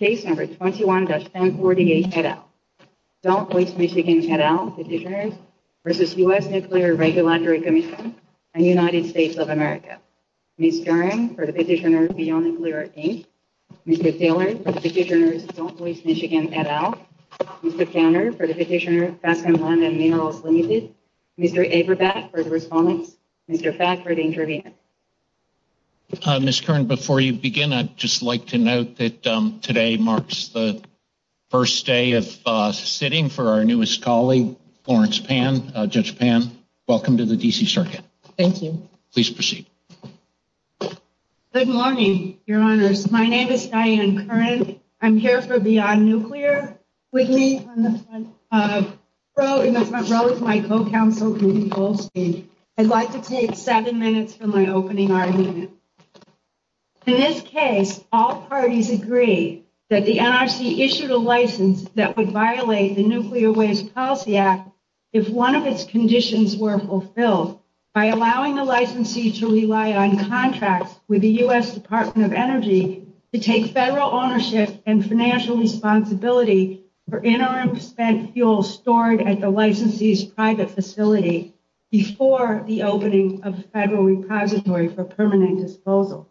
21-1048 et al. Don't Waste Michigan et al. v. U.S. Nuclear Regulatory Commission and United States of America. Ms. Kern for the petitioner, Fiona Cleary. Mr. Taylor for the petitioner, Don't Waste Michigan et al. Mr. Tanner for the petitioner, Catherine Landon-Minales-Lindsay. Mr. Eberbach for the respondent, Mr. Faft for the intervener. Ms. Kern, before you begin, I'd just like to note that today marks the first day of sitting for our newest colleague, Lawrence Pan. Judge Pan, welcome to the D.C. Circuit. Thank you. Please proceed. Good morning, Your Honors. My name is Diane Kern. I'm here for Beyond Nuclear with me on the front row. In the front row is my co-counsel, Rudy Goldstein. I'd like to take seven minutes from my opening argument. In this case, all parties agree that the NRC issued a license that would violate the Nuclear Waste Policy Act if one of its conditions were fulfilled by allowing the licensee to rely on contracts with the U.S. Department of Energy to take federal ownership and financial responsibility for in-owner spent fuels stored at the licensee's private facility before the opening of the federal repository for permanent disposal.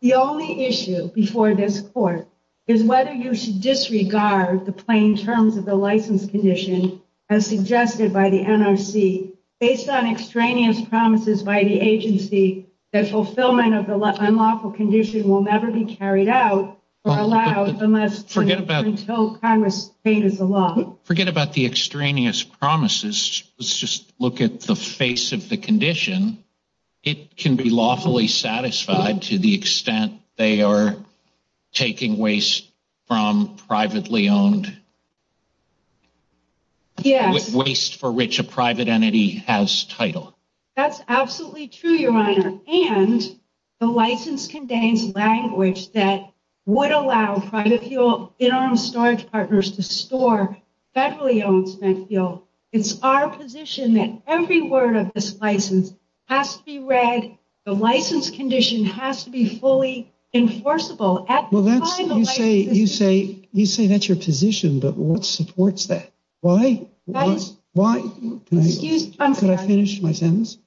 The only issue before this court is whether you should disregard the plain terms of the license condition as suggested by the NRC based on extraneous promises by the agency that fulfillment of the unlawful condition will never be carried out or allowed unless and until Congress changes the law. Forget about the extraneous promises. Let's just look at the face of the condition. It can be lawfully satisfied to the extent they are taking waste from privately owned waste for which a private entity has title. That's absolutely true, Your Honor, and the license contains language that would allow private fuel in-owner storage partners to store federally owned spent fuel. It's our position that every word of this license has to be read. The license condition has to be fully enforceable. Well, that's what you say. You say that's your position, but what supports that? Why? Why? Could I finish my sentence?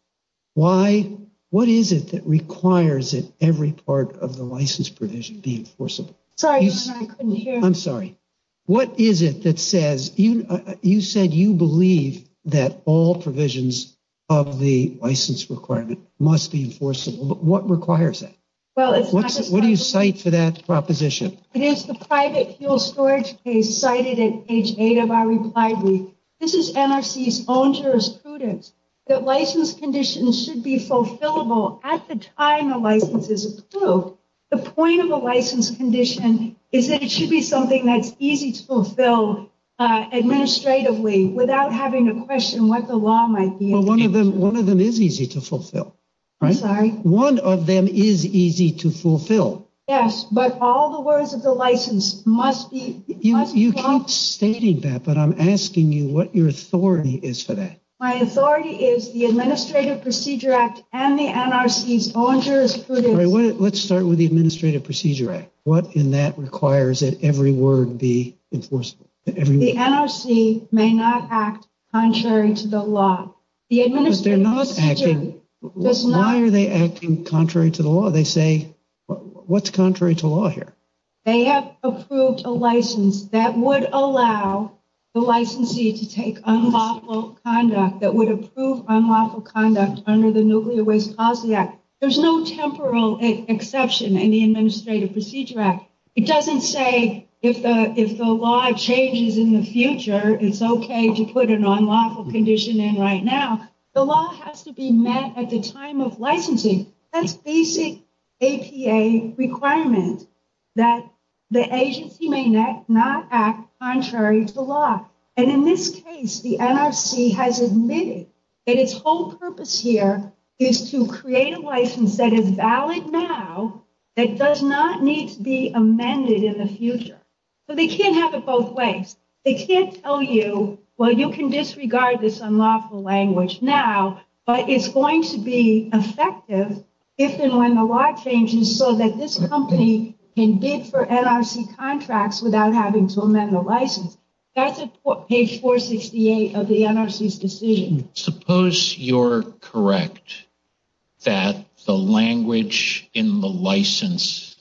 Why? What is it that requires that every part of the license provision be enforceable? Sorry, Your Honor, I couldn't hear. I'm sorry. What is it that says, you said you believe that all provisions of the license requirement must be enforceable, but what requires it? What do you cite for that proposition? It is the private fuel storage case cited at page 8 of our reply brief. This is NRC's own jurisprudence that license conditions should be fulfillable at the time the license is approved. The point of a license condition is that it should be something that's easy to fulfill administratively without having to question what the law might be. Well, one of them is easy to fulfill, right? Sorry? One of them is easy to fulfill. Yes, but all the words of the license must be… You keep stating that, but I'm asking you what your authority is for that. My authority is the Administrative Procedure Act and the NRC's own jurisprudence. Let's start with the Administrative Procedure Act. What in that requires that every word be enforceable? The NRC may not act contrary to the law. Why are they acting contrary to the law? They say, what's contrary to law here? They have approved a license that would allow the licensee to take unlawful conduct, that would approve unlawful conduct under the Nuclear Waste Policy Act. There's no temporal exception in the Administrative Procedure Act. It doesn't say if the law changes in the future, it's okay to put an unlawful condition in right now. The law has to be met at the time of licensing. That's basic APA requirement that the agency may not act contrary to the law. And in this case, the NRC has admitted that its whole purpose here is to create a license that is valid now, that does not need to be amended in the future. So they can't have it both ways. They can't tell you, well, you can disregard this unlawful language now, but it's going to be effective if and when the law changes so that this company can bid for NRC contracts without having to amend the license. That's on page 468 of the NRC's decision. Suppose you're correct that the language in the license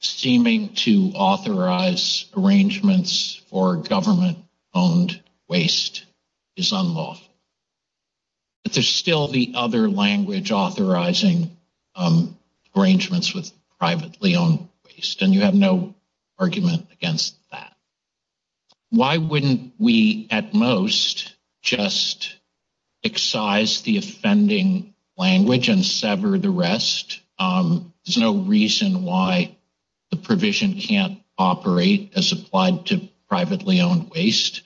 seeming to authorize arrangements for government-owned waste is unlawful. But there's still the other language authorizing arrangements with privately-owned waste, and you have no argument against that. Why wouldn't we at most just excise the offending language and sever the rest? There's no reason why the provision can't operate as applied to privately-owned waste.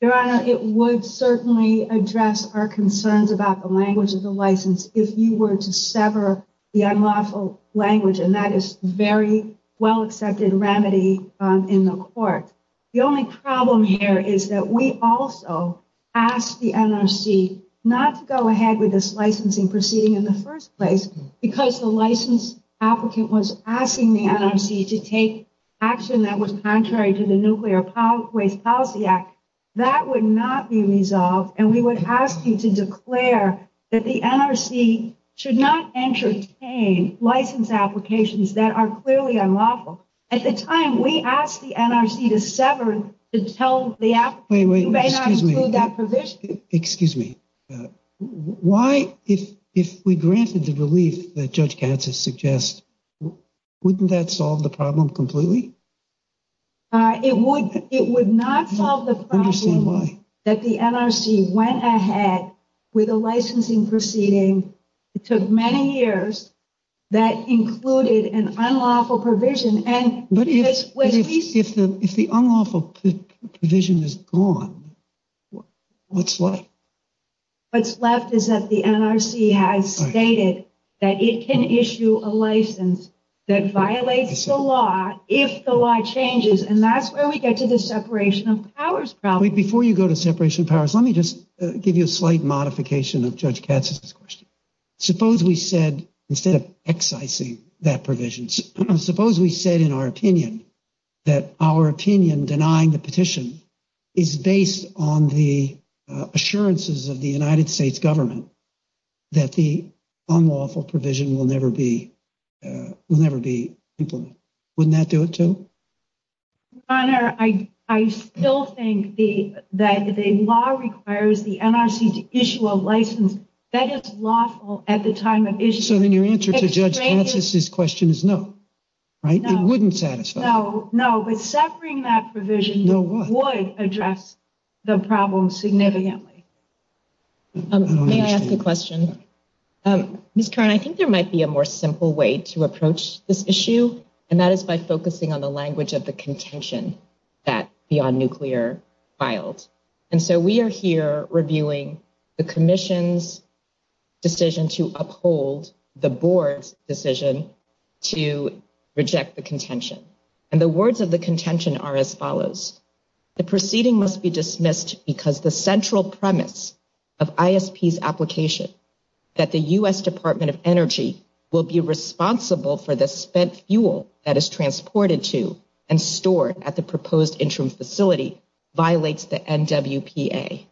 Your Honor, it would certainly address our concerns about the language of the license if you were to sever the unlawful language, and that is a very well-accepted remedy in the court. The only problem here is that we also ask the NRC not to go ahead with this licensing proceeding in the first place because the license applicant was asking the NRC to take action that was contrary to the Nuclear Waste Policy Act. That would not be resolved, and we would ask you to declare that the NRC should not entertain license applications that are clearly unlawful. At the time, we asked the NRC to sever to tell the applicant that you may not include that provision. Excuse me. Why, if we granted the relief that Judge Gantz has suggested, wouldn't that solve the problem completely? It would not solve the problem that the NRC went ahead with a licensing proceeding that took many years that included an unlawful provision. But if the unlawful provision is gone, what's left? What's left is that the NRC has stated that it can issue a license that violates the law if the law changes, and that's where we get to the separation of powers problem. Before you go to separation of powers, let me just give you a slight modification of Judge Gantz's question. Suppose we said, instead of excising that provision, suppose we said in our opinion that our opinion denying the petition is based on the assurances of the United States government that the unlawful provision will never be implemented. Wouldn't that do it, too? Your Honor, I still think that the law requires the NRC to issue a license that is lawful at the time of issue. So then your answer to Judge Gantz's question is no, right? No. It wouldn't satisfy. No, but severing that provision would address the problem significantly. May I ask a question? Ms. Curran, I think there might be a more simple way to approach this issue, and that is by focusing on the language of the contention that Beyond Nuclear filed. And so we are here reviewing the commission's decision to uphold the board's decision to reject the contention. And the words of the contention are as follows. The proceeding must be dismissed because the central premise of ISP's application, that the U.S. Department of Energy will be responsible for the spent fuel that is transported to and stored at the proposed interim facility, violates the NWPA.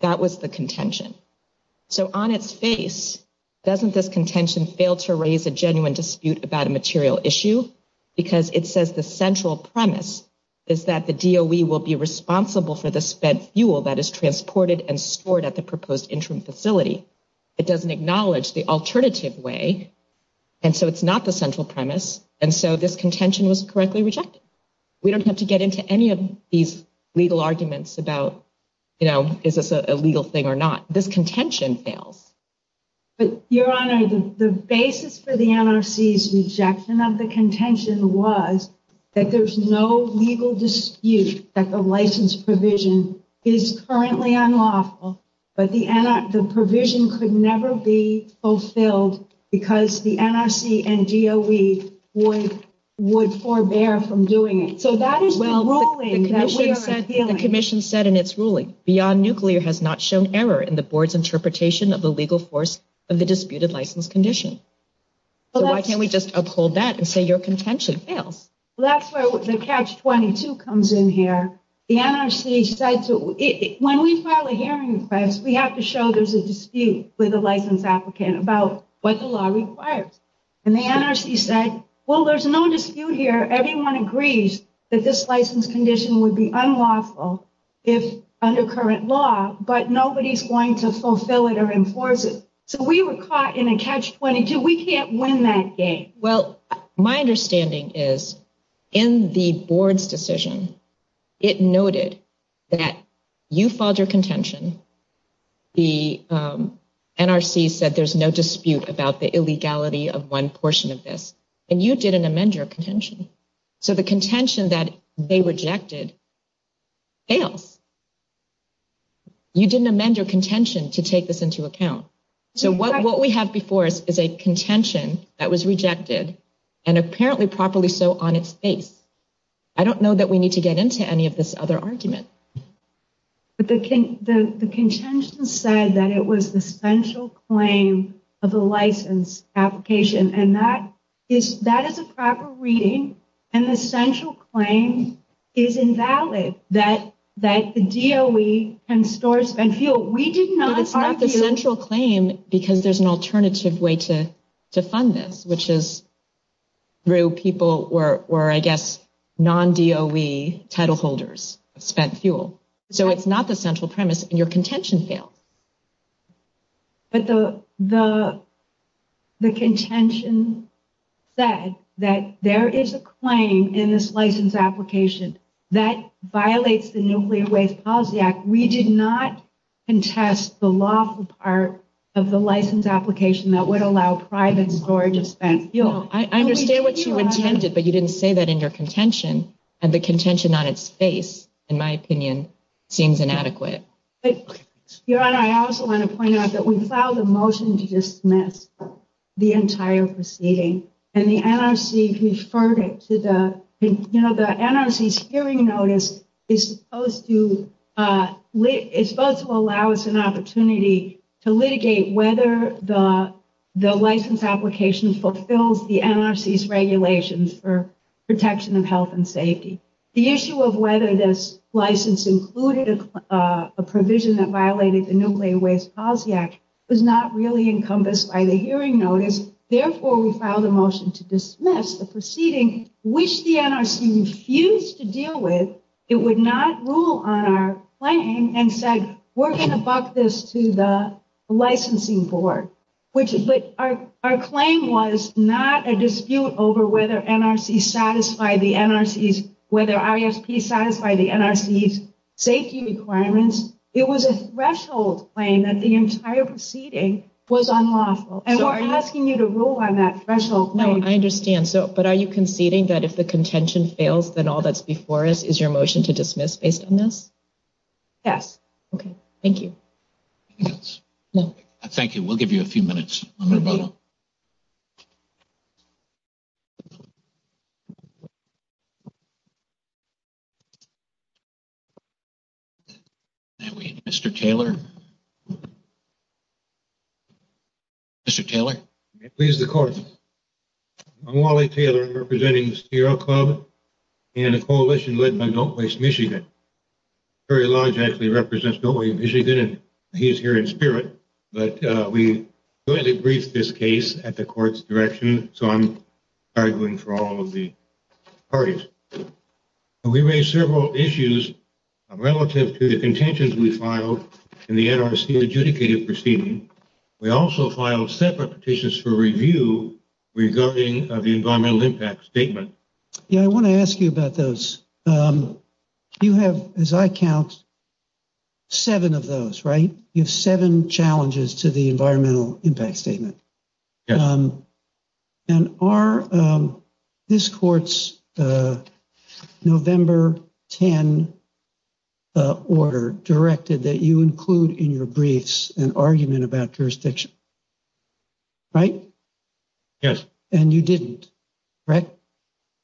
That was the contention. So on its face, doesn't this contention fail to raise a genuine dispute about a material issue? Because it says the central premise is that the DOE will be responsible for the spent fuel that is transported and stored at the proposed interim facility. It doesn't acknowledge the alternative way. And so it's not the central premise. And so this contention was correctly rejected. We don't have to get into any of these legal arguments about, you know, is this a legal thing or not. This contention fails. Your Honor, the basis for the NRC's rejection of the contention was that there's no legal dispute that the license provision is currently unlawful. But the provision could never be fulfilled because the NRC and DOE would forbear from doing it. The commission said in its ruling, beyond nuclear has not shown error in the board's interpretation of the legal force of the disputed license condition. Why can't we just uphold that and say your contention fails? That's where catch 22 comes in here. The NRC said, when we file a hearing request, we have to show there's a dispute with the license applicant about what the law requires. And the NRC said, well, there's no dispute here. Everyone agrees that this license condition would be unlawful under current law, but nobody's going to fulfill it or enforce it. So we were caught in a catch 22. We can't win that game. Well, my understanding is, in the board's decision, it noted that you filed your contention. The NRC said there's no dispute about the illegality of one portion of this. And you didn't amend your contention. So the contention that they rejected fails. You didn't amend your contention to take this into account. So what we have before us is a contention that was rejected and apparently properly so on its face. I don't know that we need to get into any of this other argument. But the contention said that it was the central claim of the license application. And that is a proper reading. And the central claim is invalid. That DOE can store spent fuel. We didn't know this. It's not the central claim because there's an alternative way to fund this, which is through people who are, I guess, non-DOE kettle holders, spent fuel. So it's not the central premise. And your contention failed. The contention said that there is a claim in this license application that violates the Nuclear Waste Policy Act. We did not contest the lawful part of the license application that would allow private storage of spent fuel. I understand what you intended, but you didn't say that in your contention. And the contention on its face, in my opinion, seems inadequate. I also want to point out that we filed a motion to dismiss the entire proceeding. And the NRC deferred it. The NRC's hearing notice is supposed to allow us an opportunity to litigate whether the license application fulfills the NRC's regulations for protection of health and safety. The issue of whether this license included a provision that violated the Nuclear Waste Policy Act was not really encompassed by the hearing notice. Therefore, we filed a motion to dismiss the proceeding, which the NRC refused to deal with. It would not rule on our claim. In fact, we're going to buck this to the licensing board. Our claim was not a dispute over whether NRC satisfied the NRC's, whether ISP satisfied the NRC's safety requirements. It was a threshold claim that the entire proceeding was unlawful. And we're asking you to rule on that threshold claim. I understand. But are you conceding that if the contention fails, then all that's before us is your motion to dismiss based on this? Yes. Okay. Thank you. Thank you. We'll give you a few minutes. Mr. Taylor? Mr. Taylor? May it please the Court. I'm Wally Taylor, representing the Steel Club and a coalition led by Don't Waste Michigan. Terry Lodge actually represents Don't Waste Michigan, and he's here in spirit. But we briefly briefed this case at the Court's direction, so I'm arguing for all of the parties. We raised several issues relative to the contentions we filed in the NRC adjudicated proceeding. We also filed separate petitions for review regarding the Environmental Impact Statement. Yeah, I want to ask you about those. You have, as I count, seven of those, right? You have seven challenges to the Environmental Impact Statement. Yes. And are this Court's November 10 order directed that you include in your briefs an argument about jurisdiction? Right? Yes. And you didn't, right?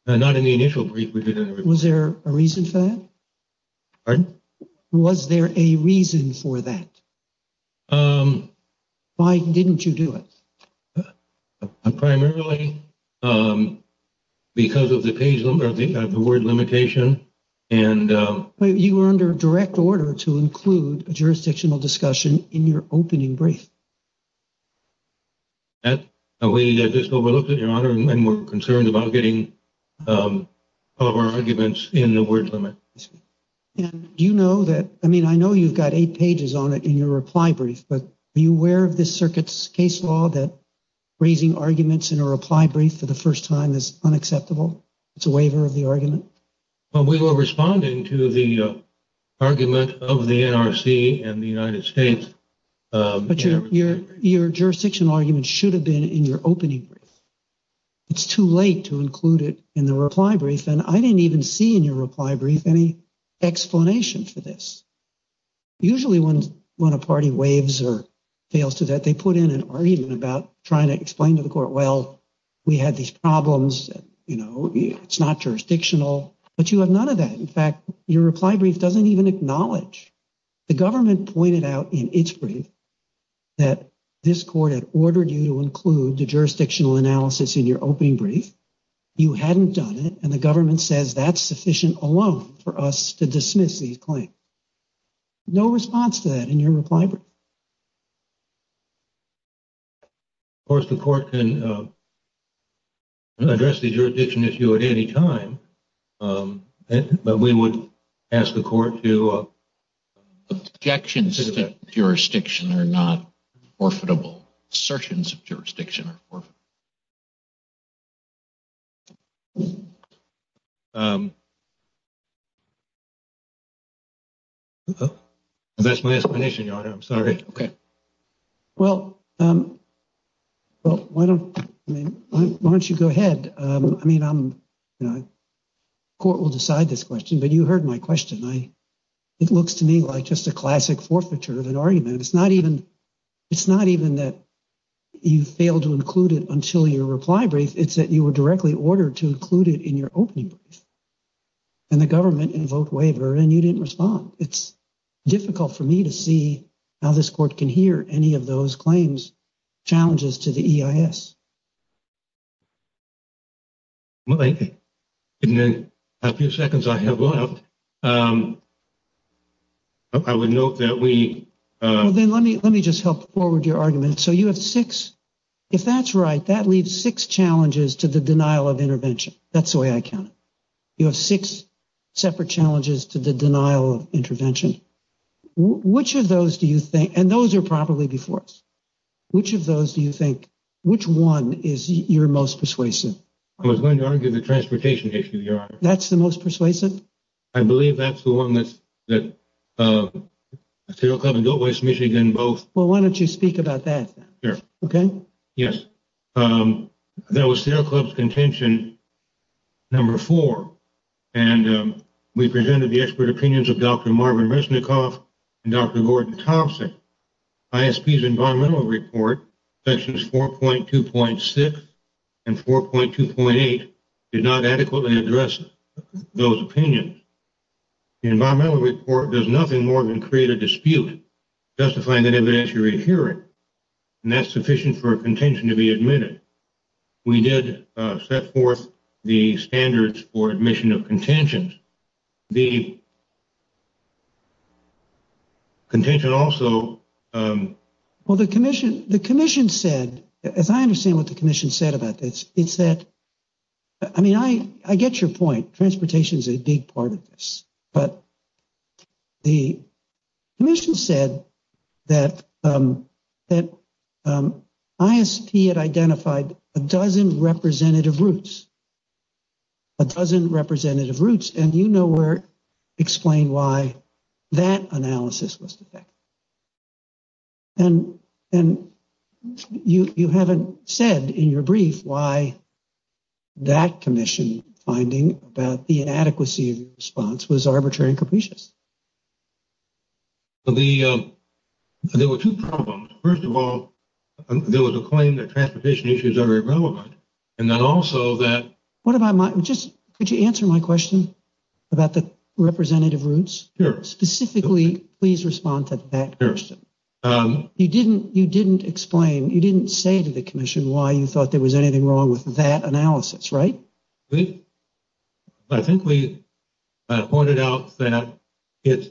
Not in the initial brief. Was there a reason for that? Pardon? Was there a reason for that? Um... Why didn't you do it? Primarily because of the word limitation. But you were under direct order to include a jurisdictional discussion in your opening brief. Yes. We just overlooked it, Your Honor, and we're concerned about getting all of our arguments in the word limit. And do you know that, I mean, I know you've got eight pages on it in your reply brief, but are you aware of this circuit's case law that raising arguments in a reply brief for the first time is unacceptable? It's a waiver of the argument. Well, we were responding to the argument of the NRC and the United States. But your jurisdictional argument should have been in your opening brief. It's too late to include it in the reply brief, and I didn't even see in your reply brief any explanation for this. Usually when a party waves or fails to that, they put in an argument about trying to explain to the Court, well, we had these problems, you know, it's not jurisdictional. But you have none of that. In fact, your reply brief doesn't even acknowledge. The government pointed out in its brief that this Court had ordered you to include the jurisdictional analysis in your opening brief. You hadn't done it, and the government says that's sufficient alone for us to dismiss these claims. No response to that in your reply brief. Of course, the Court can address the jurisdiction issue at any time. But we would ask the Court to objections to that jurisdiction are not forfeitable. Assertions of jurisdiction are forfeitable. That's my explanation, Your Honor. I'm sorry. Well, why don't you go ahead? I mean, the Court will decide this question, but you heard my question. It looks to me like just a classic forfeiture of an argument. It's not even that you failed to include it until your reply brief. It's that you were directly ordered to include it in your opening brief, and the government invoked waiver, and you didn't respond. It's difficult for me to see how this Court can hear any of those claims, challenges to the EIS. Well, in the few seconds I have left, I would note that we— Well, then let me just help forward your argument. So you have six—if that's right, that leaves six challenges to the denial of intervention. That's the way I count it. You have six separate challenges to the denial of intervention. Which of those do you think—and those are probably before us. Which of those do you think—which one is your most persuasive? I was going to argue the transportation issue, Your Honor. That's the most persuasive? I believe that's the one that—Steel Club and Go West Michigan both— Well, why don't you speak about that? Sure. Okay? Yes. That was Steel Club's contention number four, and we presented the expert opinions of Dr. Marvin Resnikoff and Dr. Gordon Thompson. ISP's environmental report, sections 4.2.6 and 4.2.8, did not adequately address those opinions. The environmental report does nothing more than create a dispute, justifying an evidentiary hearing, and that's sufficient for a contention to be admitted. We did set forth the standards for admission of contentions. The contention also— Well, the commission said—and I understand what the commission said about this. It said—I mean, I get your point. Transportation is a big part of this. But the commission said that ISP had identified a dozen representative routes, a dozen representative routes, and you know where to explain why that analysis was the thing. And you haven't said in your brief why that commission's finding about the inadequacy of the response was arbitrary and capricious. There were two problems. First of all, there was a claim that transportation issues are irrelevant. And then also that— Could you answer my question about the representative routes? Sure. Specifically, please respond to that first. You didn't explain—you didn't say to the commission why you thought there was anything wrong with that analysis, right? We—I think we pointed out that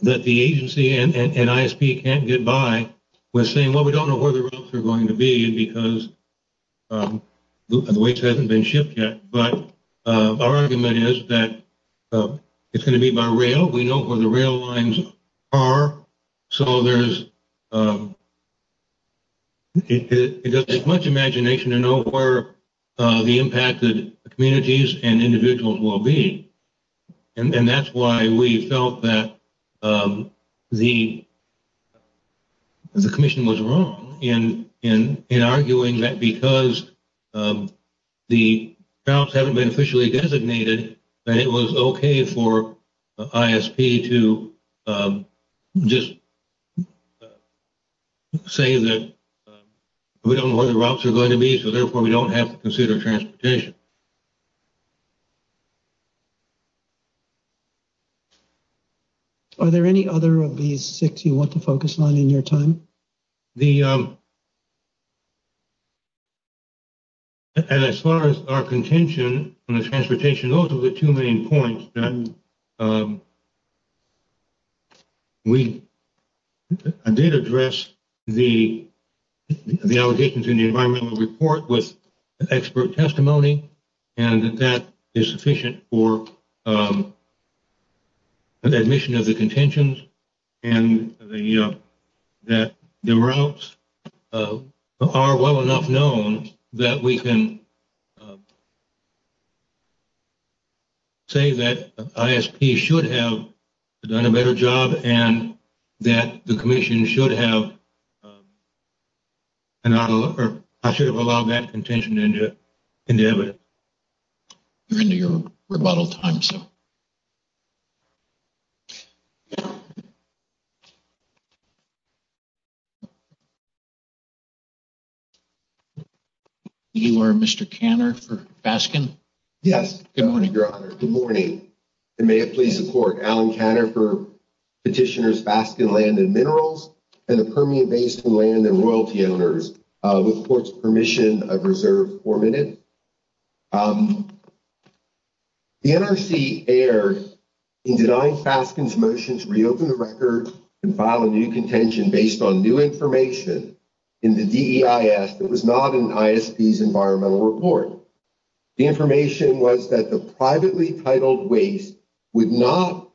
the agency and ISP can't get by with saying, well, we don't know where the routes are going to be because the weights haven't been shipped yet. But our argument is that it's going to be by rail. We know where the rail lines are. So there's—it doesn't take much imagination to know where the impacted communities and individuals will be. And that's why we felt that the commission was wrong in arguing that because the routes haven't been officially designated, that it was okay for ISP to just say that we don't know where the routes are going to be, so therefore we don't have to consider transportation. Are there any other of these six you want to focus on in your time? The—and as far as our contention on the transportation, those are the two main points. We did address the allocations in the environmental report with expert testimony, and that is sufficient for the admission of the contentions and that the routes are well enough known that we can say that ISP should have done a better job and that the commission should have—I should have allowed that contention to end up in the evidence. We're into your rebuttal time, so. You are Mr. Canner for Baskin? Yes. Good morning, Your Honor. Good morning. And may it please the Court, Alan Canner for petitioners Baskin Land and Minerals and the Permian Basin Land and Royalty Owners. With the Court's permission, I reserve four minutes. The NRC errs in denying Baskin's motion to reopen the records and file a new contention based on new information in the DEIS that was not in ISP's environmental report. The information was that the privately titled waste would not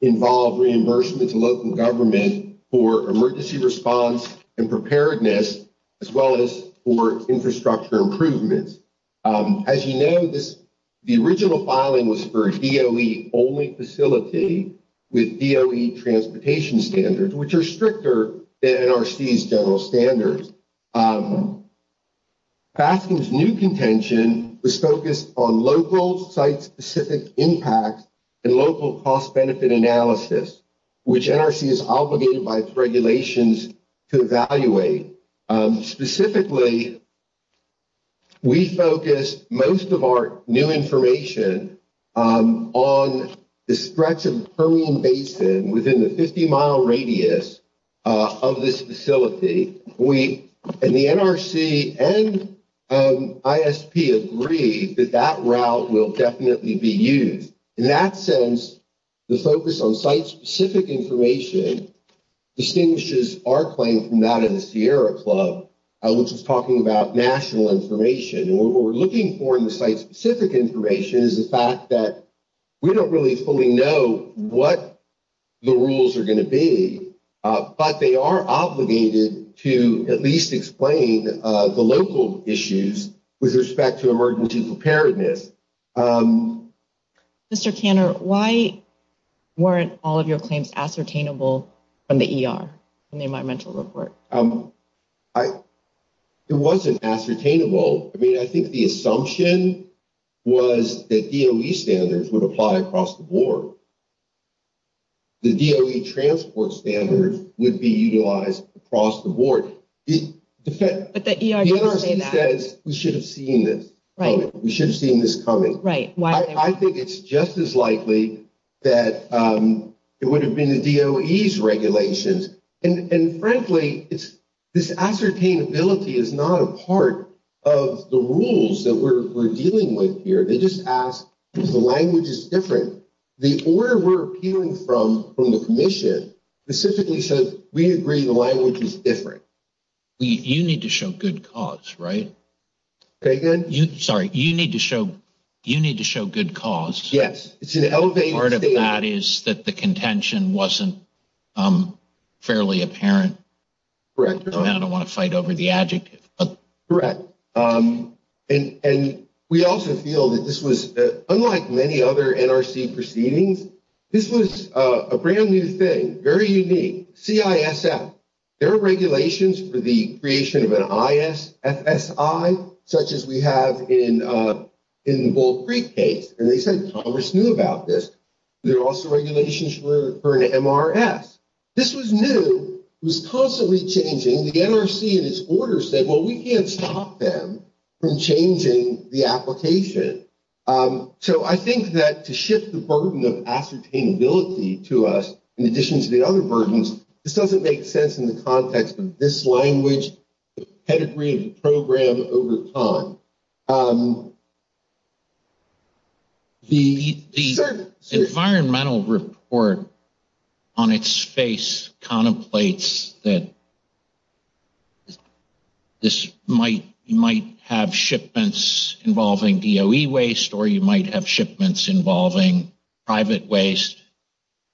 involve reimbursement to local government for emergency response and preparedness, as well as for infrastructure improvements. As you know, the original filing was for a DOE-only facility with DOE transportation standards, which are stricter than NRC's general standards. Baskin's new contention was focused on local site-specific impact and local cost-benefit analysis, which NRC is obligated by its regulations to evaluate. Specifically, we focused most of our new information on the stretch of the Permian Basin within the 50-mile radius of this facility. We, and the NRC and ISP, agreed that that route will definitely be used. In that sense, the focus on site-specific information distinguishes our claim from that of the Sierra Club, which is talking about national information. What we're looking for in the site-specific information is the fact that we don't really fully know what the rules are going to be, but they are obligated to at least explain the local issues with respect to emergency preparedness. Mr. Kanner, why weren't all of your claims ascertainable from the ER, from the environmental report? It wasn't ascertainable. I mean, I think the assumption was that DOE standards would apply across the board. The DOE transport standard would be utilized across the board. But the ER didn't say that. The NRC says we shouldn't see this coming. We shouldn't see this coming. Right. I think it's just as likely that it would have been the DOE's regulations. And frankly, this ascertainability is not a part of the rules that we're dealing with here. They just ask if the language is different. The order we're appealing from, from the Commission, specifically says we agree the language is different. You need to show good cause, right? Say again? Sorry, you need to show good cause. Yes. Part of that is that the contention wasn't fairly apparent. Correct. I don't want to fight over the adjective. Correct. And we also feel that this was, unlike many other NRC proceedings, this was a brand-new thing. CISM. There are regulations for the creation of an ISSI, such as we have in the Bull Creek case. And they said Congress knew about this. There are also regulations for an MRS. This was new. It was constantly changing. The NRC in its order said, well, we can't stop them from changing the application. So I think that to shift the burden of ascertainability to us, in addition to the other burdens, just doesn't make sense in the context of this language, the pedigree of the program over time. The environmental report on its face contemplates that this might have shipments involving DOE waste, or you might have shipments involving private waste.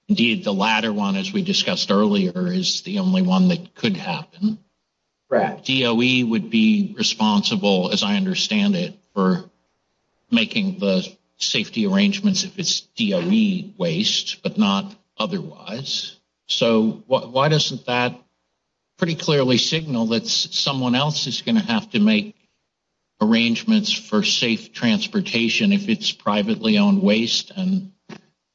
Indeed, the latter one, as we discussed earlier, is the only one that could happen. Correct. DOE would be responsible, as I understand it, for making the safety arrangements if it's DOE waste, but not otherwise. So why doesn't that pretty clearly signal that someone else is going to have to make arrangements for safe transportation if it's privately owned waste, and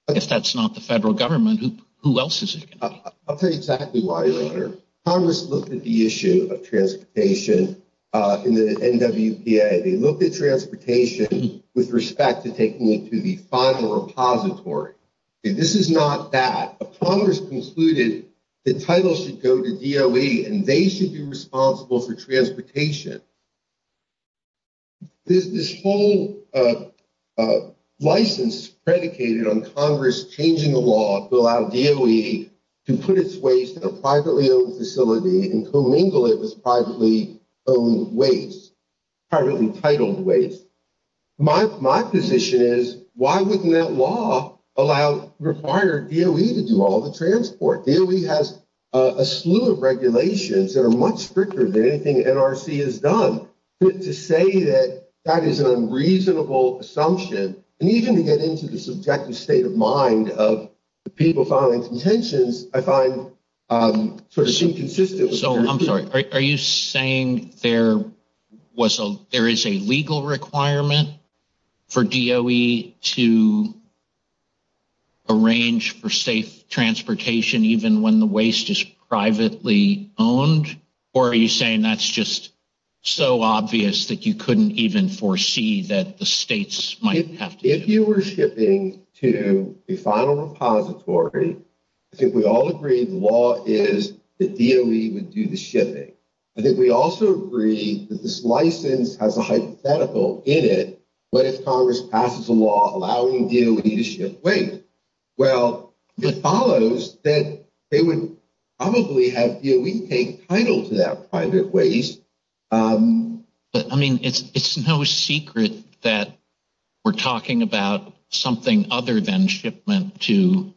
if that's not the federal government, who else is it going to be? I'll tell you exactly why later. Congress looked at the issue of transportation in the NWPA. They looked at transportation with respect to taking it to the final repository. This is not that. Congress concluded the title should go to DOE, and they should be responsible for transportation. There's this whole license predicated on Congress changing the law to allow DOE to put its waste in a privately owned facility and commingle it with privately owned waste, privately titled waste. My position is, why wouldn't that law allow retired DOE to do all the transport? DOE has a slew of regulations that are much stricter than anything NRC has done. To say that that is an unreasonable assumption, and even to get into the subjective state of mind of people filing contentions, I find sort of inconsistent. So, I'm sorry, are you saying there is a legal requirement for DOE to arrange for safe transportation even when the waste is privately owned? Or are you saying that's just so obvious that you couldn't even foresee that the states might have to- If you were shipping to the final repository, if we all agree the law is that DOE would do the shipping, and if we also agree that this license has a hypothetical in it, let Congress pass a law allowing DOE to ship waste, well, it follows that they would probably have DOE take title to that private waste. But, I mean, it's no secret that we're talking about something other than shipment to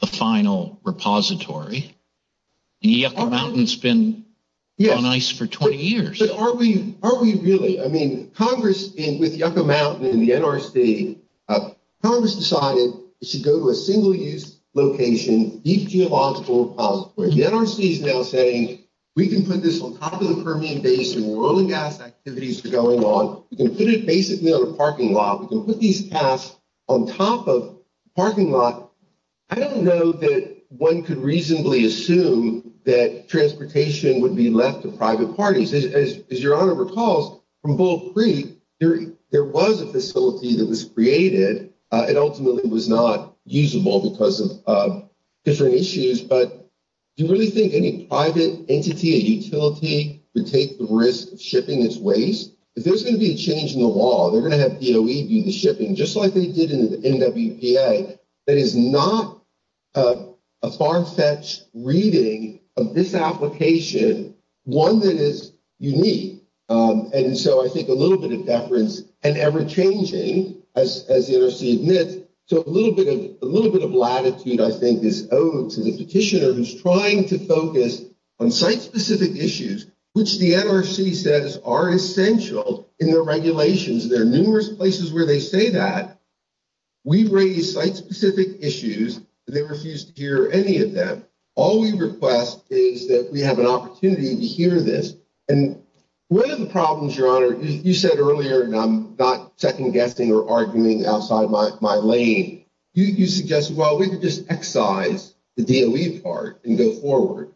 the final repository. The Yucca Mountain's been on ice for 20 years. Yeah, but are we really? I mean, Congress, with Yucca Mountain and the NRC, Congress decided it should go to a single-use location, DP of all school repositories. The NRC is now saying, we can put this on top of a permeant base where all the gas activities are going on, we can put it basically on a parking lot, we can put these gas on top of a parking lot. I don't know that one could reasonably assume that transportation would be left to private parties. As your Honor recalls, from Bull Creek, there was a facility that was created. It ultimately was not usable because of different issues, but do you really think any private entity or utility would take the risk of shipping this waste? There's going to be a change in the law. They're going to have DOE do the shipping, just like they did in the NWPA. That is not a far-fetched reading of this application, one that is unique. And so I think a little bit of deference, and ever-changing, as the NRC admits. So a little bit of latitude, I think, is owed to the Petitioner, who's trying to focus on site-specific issues, which the NRC says are essential in their regulations. There are numerous places where they say that. We raise site-specific issues, and they refuse to hear any of that. All we request is that we have an opportunity to hear this. One of the problems, Your Honor, you said earlier, and I'm not second-guessing or arguing outside my lane, you suggested, well, we could just excise the DOE part and go forward.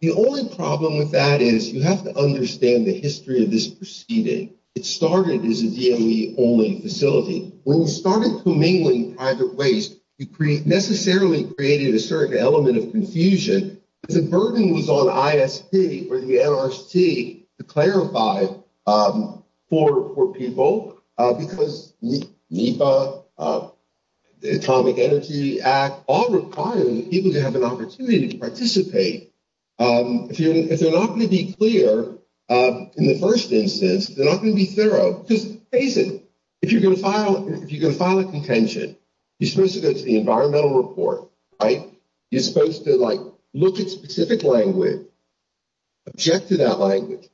The only problem with that is you have to understand the history of this proceeding. It started as a DOE-only facility. When we started commingling with private waste, we necessarily created a certain element of confusion. The burden was on ISP, or the NRC, to clarify for people, because NEPA, the Atomic Energy Act, all require people to have an opportunity to participate. If they're not going to be clear in the first instance, if they're not going to be clear, just face it. If you're going to file a contention, you're supposed to go to the environmental report, right? You're supposed to, like, look at specific language, object to that language,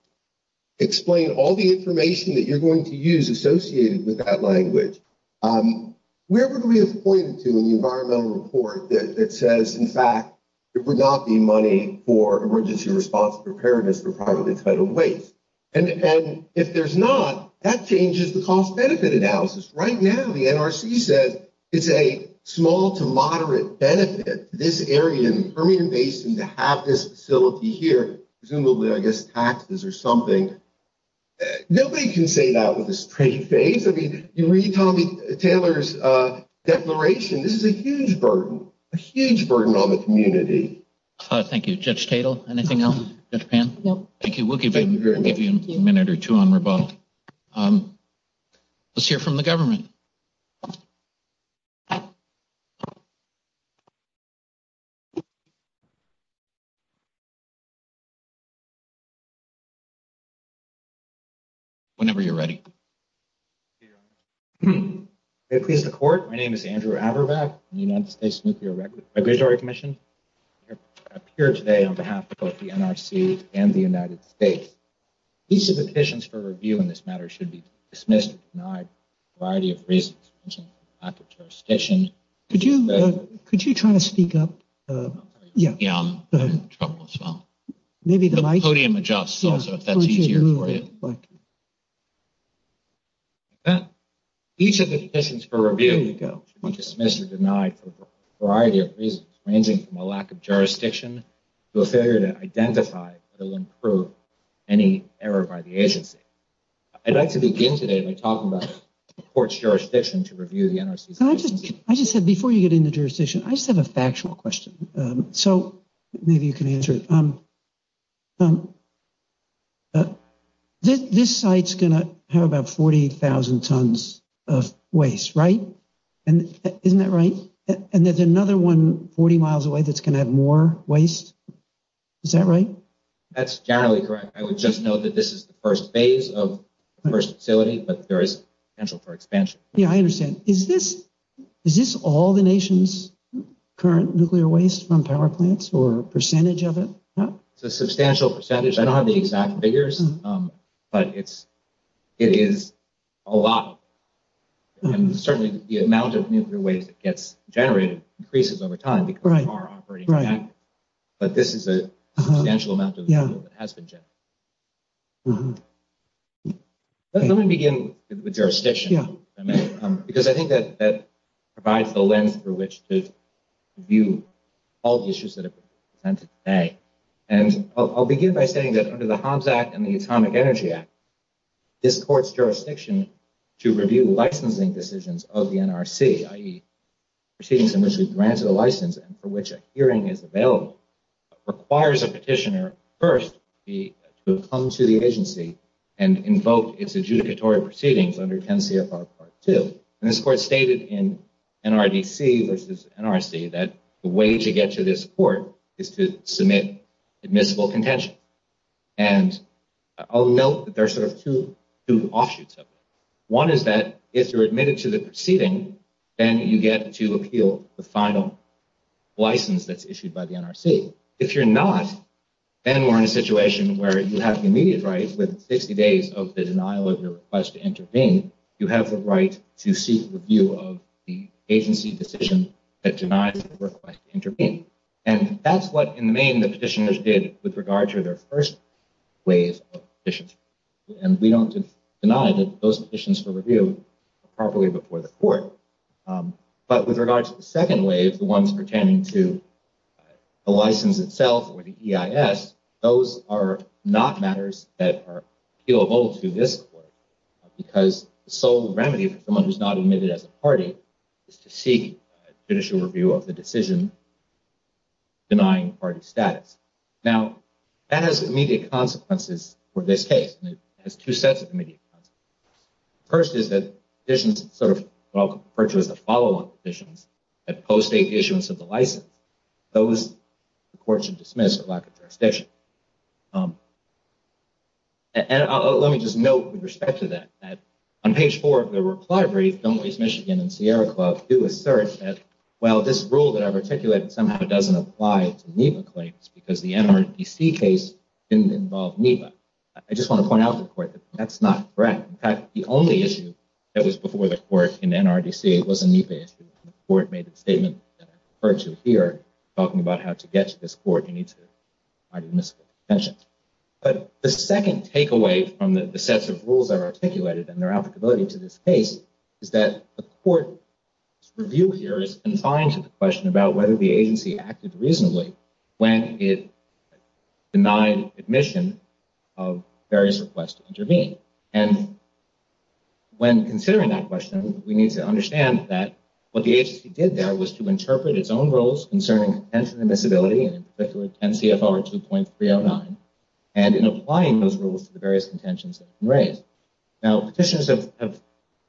explain all the information that you're going to use associated with that language. Where would we have pointed to in the environmental report that says, in fact, there would not be money for emergency response preparedness for private and federal waste? And if there's not, that changes the cost-benefit analysis. Right now, the NRC said it's a small-to-moderate benefit in this area, in the Permian Basin, to have this facility here. Presumably, I guess, taxes or something. Nobody can say that with a straight face. I mean, when you tell me Taylor's declaration, this is a huge burden, a huge burden on the community. Thank you. Judge Tatel, anything else? No. Thank you. We'll give you a minute or two, and we'll vote. Let's hear from the government. Whenever you're ready. May it please the Court. My name is Andrew Averbeck, United States Nuclear Regulatory Commission. I appear today on behalf of both the NRC and the United States. Each of the petitions for review in this matter should be dismissed and denied for a variety of reasons ranging from a lack of jurisdiction. Could you try to speak up? Yeah, I'm in trouble, so. The podium adjusts, also, if that's easier for you. Each of the petitions for review should be dismissed and denied for a variety of reasons ranging from a lack of jurisdiction to a failure to identify that will improve any error by the agency. I'd like to begin today by talking about the court's jurisdiction to review the NRC petition. I just have, before you get into jurisdiction, I just have a factual question. So, maybe you can answer it. This site's going to have about 40,000 tons of waste, right? Isn't that right? And there's another one 40 miles away that's going to have more waste. Is that right? That's generally correct. I would just know that this is the first phase of the first facility, but there is potential for expansion. Yeah, I understand. Is this all the nation's current nuclear waste from power plants or a percentage of it? It's a substantial percentage. I don't have the exact figures, but it is a lot. And certainly the amount of nuclear waste that gets generated increases over time because of our operating budget. But this is a substantial amount of nuclear waste that has been generated. Let me begin with jurisdiction. Because I think that provides the lens through which to view all the issues that have been discussed today. And I'll begin by saying that under the Hobbs Act and the Atomic Energy Act, this court's jurisdiction to review licensing decisions of the NRC, i.e. proceedings in which we grant a license and for which a hearing is available, requires a petitioner first to come to the agency and invoke its adjudicatory proceedings under 10 CFR Part 2. And this court stated in NRDC versus NRC that the way to get to this court is to submit admissible contention. And I'll note that there are sort of two offshoots of it. One is that if you're admitted to the proceeding, then you get to appeal the final license that's issued by the NRC. If you're not, then we're in a situation where you have the immediate right, within 50 days of the denial of the request to intervene, you have the right to seek review of the agency decision that denies the request to intervene. And that's what, in the main, the petitioners did with regard to their first ways of petitioning. And we don't deny that those petitions for review are properly before the court. But with regard to the second way, the ones pertaining to the license itself or the EIS, those are not matters that are appealable to this court, because the sole remedy for someone who's not admitted as a party is to seek judicial review of the decision denying party status. Now, that has immediate consequences for this case. It has two sets of immediate consequences. The first is that petitions that are referred to as the follow-up petitions, that postdate issuance of the license, those, the court should dismiss without contestation. And let me just note with respect to that, that on page four of the reply brief, Don't Waste Michigan and Sierra Club do assert that, well, this rule that I've articulated somehow doesn't apply to NEPA claims because the NRDC case didn't involve NEPA. I just want to point out to the court that that's not correct. In fact, the only issue that was before the court in NRDC was a NEPA issue. The court made a statement that I refer to here, talking about how to get to this court, you need to provide admissible attention. But the second takeaway from the sets of rules that are articulated and their applicability to this case, is that the court's review here is confined to the question about whether the agency acted reasonably when it denied admission of various requests to intervene. And when considering that question, we need to understand that what the agency did there was to interpret its own rules concerning extensive admissibility and in particular 10 PSR 2.309, and in applying those rules to the various contentions that were raised. Now, petitions have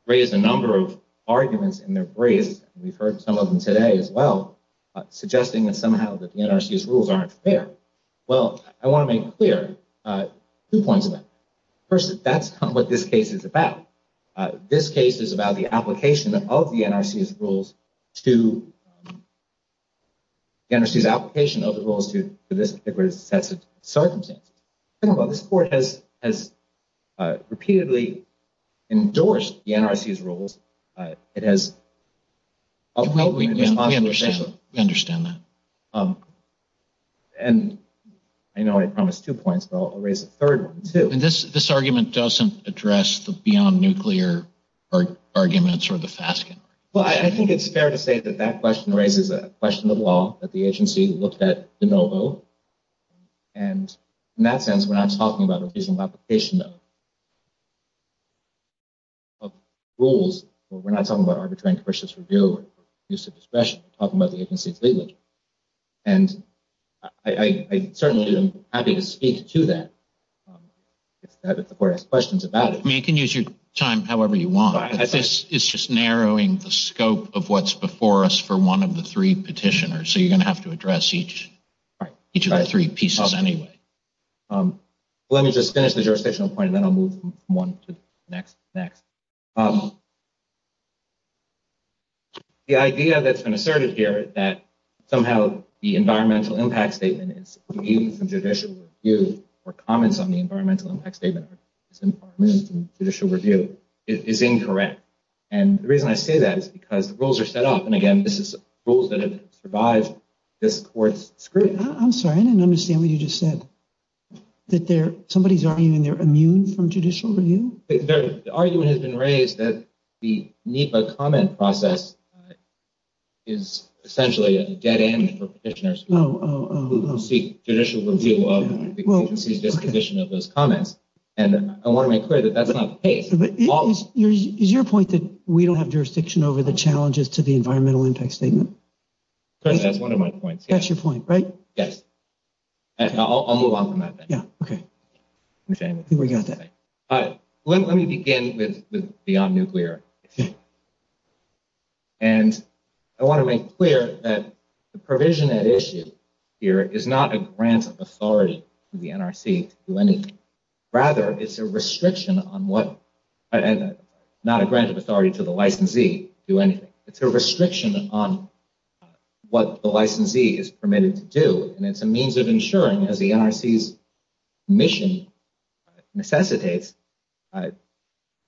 raised a number of arguments in their briefs, and we've heard some of them today as well, suggesting that somehow the NRDC's rules aren't fair. Well, I want to make clear two points of that. First, that's not what this case is about. This case is about the application of the NRDC's rules to the NRDC's application of the rules to this particular set of circumstances. And while this court has repeatedly endorsed the NRDC's rules, it has ultimately been monotonous. I understand that. And I know I promised two points, but I'll raise a third one too. And this argument doesn't address the beyond nuclear arguments or the FASC. Well, I think it's fair to say that that question raises a question of law that the agency looked at de novo. And in that sense, we're not talking about a vision of application of rules. We're not talking about arbitrary and suspicious review or use of discretion. We're talking about the agency's legislation. And I certainly am happy to speak to that if the court has questions about it. I mean, you can use your time however you want. I think it's just narrowing the scope of what's before us for one of the three petitioners. So you're going to have to address each of the three pieces anyway. Let me just finish the jurisdictional point, and then I'll move from one to the next. The idea that's been asserted here is that somehow the environmental impact statement and judicial review or comments on the environmental impact statement and judicial review is incorrect. And the reason I say that is because the rules are set up, and again, this is rules that have survived this court's scrutiny. I'm sorry. I didn't understand what you just said. That somebody's arguing they're immune from judicial review? The argument has been raised that the NEPA comment process is essentially a dead end for petitioners who seek judicial review of the condition of those comments. And I want to make clear that that's not the case. Is your point that we don't have jurisdiction over the challenges to the environmental impact statement? That's one of my points. That's your point, right? Yes. I'll move on from that then. Okay. I think we got that. All right. Let me begin with the non-nuclear issue. And I want to make clear that the provision at issue here is not a grant of authority to the NRC to do anything. Rather, it's a restriction on what – not a grant of authority to the licensee to do anything. It's a restriction on what the licensee is permitted to do, and it's a means of ensuring that the NRC's mission necessitates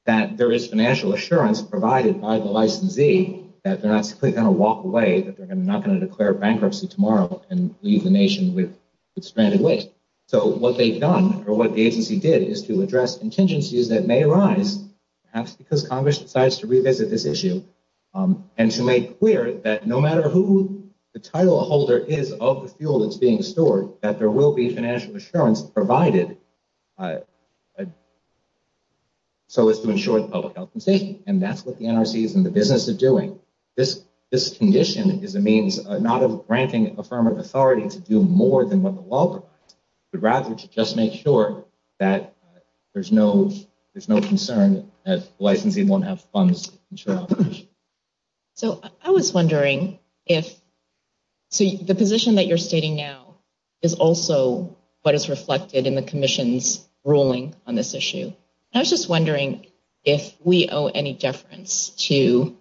that there is financial assurance provided by the licensee that they're not simply going to walk away, that they're not going to declare bankruptcy tomorrow and leave the nation with suspended weight. So what they've done, or what the agency did, is to address contingencies that may arise, perhaps because Congress decides to revisit this issue, and to make clear that no matter who the title holder is of the fuel that's being stored, that there will be financial assurance provided so as to ensure the public health and safety. And that's what the NRC is in the business of doing. This condition is a means not of granting a firm of authority to do more than what the law requires, but rather to just make sure that there's no concern that the licensee won't have funds to ensure health and safety. So I was wondering if – the position that you're stating now is also what is reflected in the Commission's ruling on this issue. I was just wondering if we owe any deference to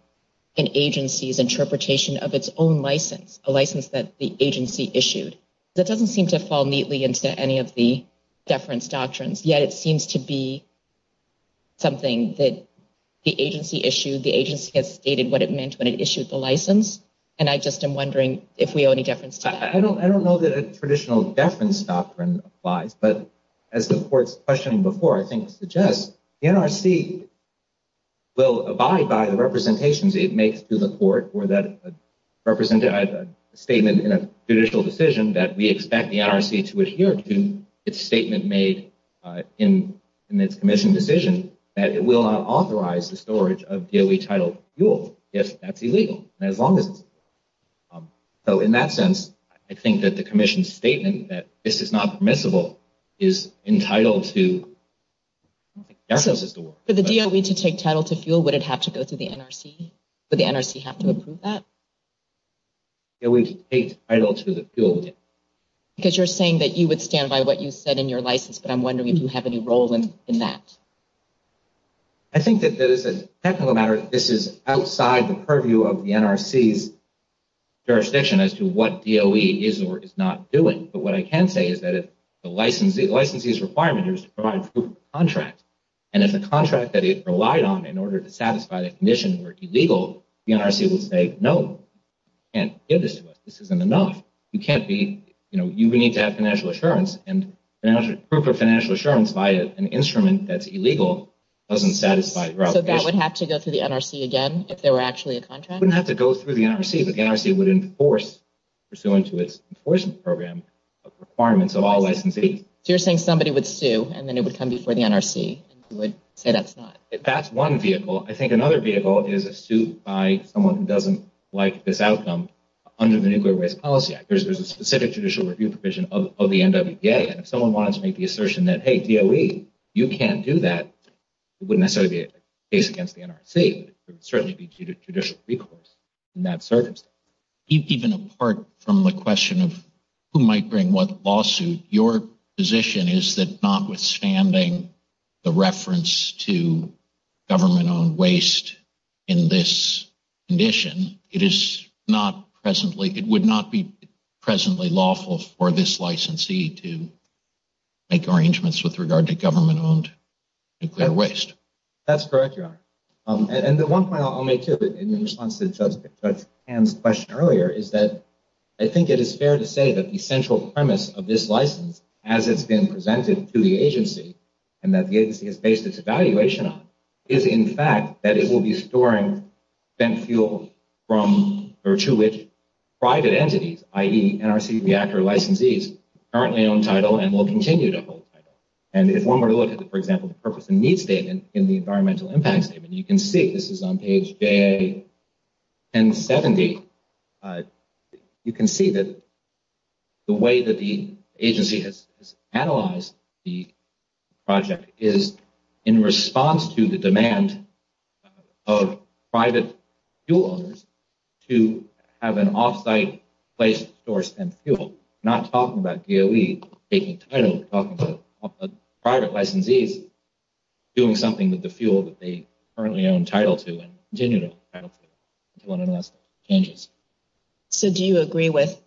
an agency's interpretation of its own license, a license that the agency issued. That doesn't seem to fall neatly into any of the deference doctrines, yet it seems to be something that the agency issued. The agency has stated what it meant when it issued the license, and I just am wondering if we owe any deference to that. I don't know that a traditional deference doctrine applies, but as the Court's question before I think suggests, the NRC will abide by the representations it makes to the Court where that representative has a statement in a judicial decision that we expect the NRC to adhere to. It's a statement made in its Commission decision that it will authorize the storage of DOE-titled fuel if that's illegal, as long as it is. So in that sense, I think that the Commission's statement that this is not permissible is entitled to deference. For the DOE to take title to fuel, would it have to go through the NRC? Would the NRC have to approve that? DOE takes title to the fuel. Because you're saying that you would stand by what you said in your license, but I'm wondering if you have any role in that. I think that it's a technical matter. This is outside the purview of the NRC's jurisdiction as to what DOE is or is not doing. But what I can say is that the licensee's requirement is to provide proof of contract, and if the contract that it relied on in order to satisfy the Commission were illegal, the NRC would say, no, you can't give this to us. This isn't enough. You can't be, you know, you need to have financial assurance, and proof of financial assurance by an instrument that's illegal doesn't satisfy your obligation. So that would have to go through the NRC again, if there were actually a contract? It wouldn't have to go through the NRC. The NRC would enforce, pursuant to its enforcement program, the requirements of all licensees. So you're saying somebody would sue, and then it would come before the NRC, who would say that's not? That's one vehicle. I think another vehicle is a suit by someone who doesn't like this outcome under the Nuclear Waste Policy Act. There's a specific judicial review provision of the NWPA, and if someone wanted to make the assertion that, hey, DOE, you can't do that, it wouldn't necessarily be a case against the NRC. It would certainly be a judicial recourse in that circumstance. Even apart from the question of who might bring what lawsuit, your position is that notwithstanding the reference to government-owned waste in this condition, it would not be presently lawful for this licensee to make arrangements with regard to government-owned nuclear waste. That's correct, Your Honor. And the one point I'll make, too, in response to Judge Pan's question earlier, is that I think it is fair to say that the central premise of this license, as it's been presented to the agency and that the agency has based its evaluation on, is, in fact, that it will be storing spent fuels to which private entities, i.e., NRC, reactor licensees, currently own title and will continue to hold title. And if one were to look at, for example, the purpose and needs statement in the Environmental Impact Statement, you can see, this is on page 1070, you can see that the way that the agency has analyzed the project is in response to the demand of private fuel owners to have an off-site place to store spent fuel. I'm not talking about DOE taking title. I'm talking about private licensees doing something with the fuel that they currently own title to and continue to have title. Do you want to address that? Yes. So, do you agree with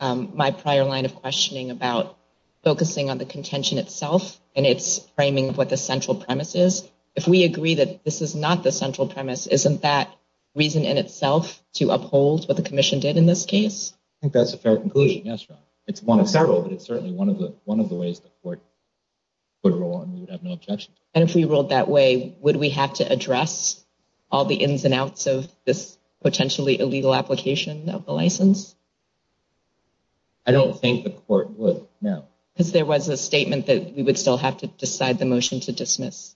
my prior line of questioning about focusing on the contention itself and its framing of what the central premise is? If we agree that this is not the central premise, isn't that reason in itself to uphold what the Commission did in this case? I think that's a fair conclusion. Yes, Your Honor. It's one of several, but it's certainly one of the ways the Court would rule and we would have no objections. And if we ruled that way, would we have to address all the ins and outs of this potentially illegal application of the license? I don't think the Court would, no. Because there was a statement that we would still have to decide the motion to dismiss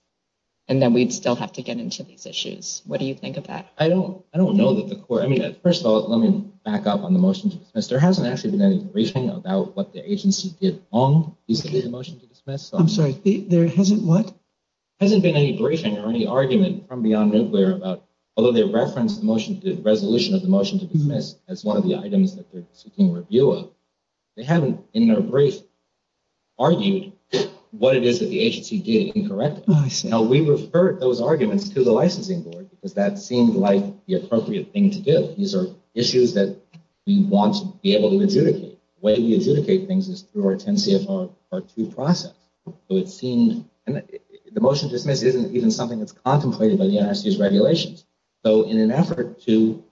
and that we'd still have to get into these issues. What do you think of that? I don't know that the Court, I mean, first of all, let me back up on the motion to dismiss. There hasn't actually been any briefing about what the agency did wrong. I'm sorry, there hasn't, what? There hasn't been any briefing or any argument from beyond midway about, although they referenced the resolution of the motion to dismiss as one of the items that they're seeking review of, they haven't, in their brief, argued what it is that the agency did incorrectly. Now, we referred those arguments to the licensing board because that seemed like the appropriate thing to do. These are issues that we want to be able to adjudicate. The way we adjudicate things is through our 10-CFR2 process. So it seemed, the motion to dismiss isn't even something that's contemplated by the NRC's regulations. So in an effort to,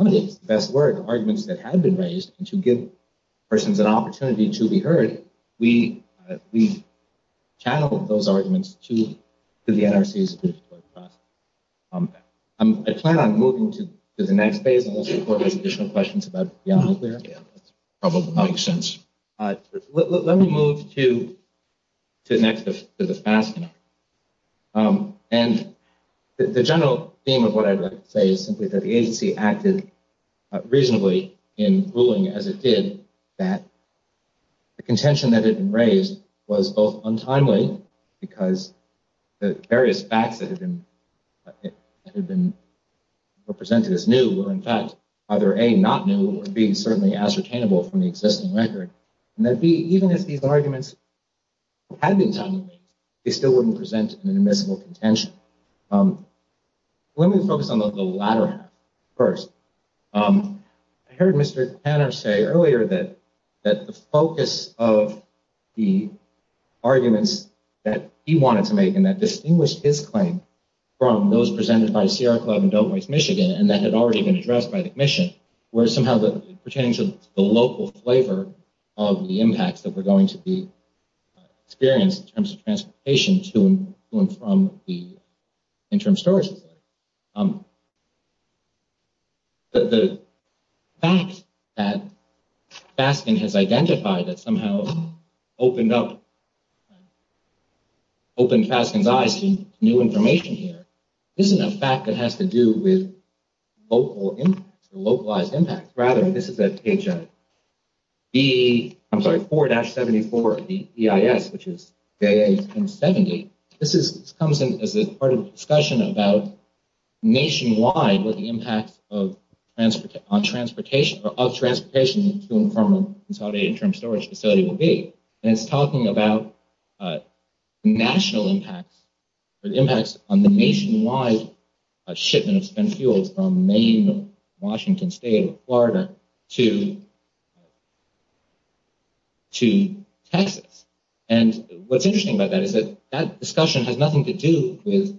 if that's the word, arguments that have been raised, and to give persons an opportunity to be heard, we channeled those arguments to the NRC's. I plan on moving to the next page, unless you have any additional questions about the options there. Trouble with options. Let me move to the next, to the fast one. And the general theme of what I'd like to say is simply that the agency acted reasonably in ruling, as it did, that the contention that had been raised was both untimely, because the various facts that had been presented as new were in fact either, A, not new, or, B, certainly ascertainable from the existing record, and that, B, even if these arguments had been timely, they still wouldn't present an admissible contention. Let me focus on the latter first. I heard Mr. Tanner say earlier that the focus of the arguments that he wanted to make, and that distinguished his claim from those presented by the CR Club in Dove Heights, Michigan, and that had already been addressed by the Commission, were somehow pertaining to the local flavor of the impacts that were going to be experienced in terms of transportation to and from the interim storage facility. But the facts that Fasken has identified, that somehow opened up, opened Fasken's eyes to new information here, this is a fact that has to do with localized impacts. Rather, this is page 4-74 of the EIS, which is J1870. This comes in as part of the discussion about nationwide, what the impact of transportation to and from a consolidated interim storage facility will be. And it's talking about national impacts, or impacts on the nationwide shipments and fuels from Maine, Washington State, Florida, to Texas. And what's interesting about that is that that discussion has nothing to do with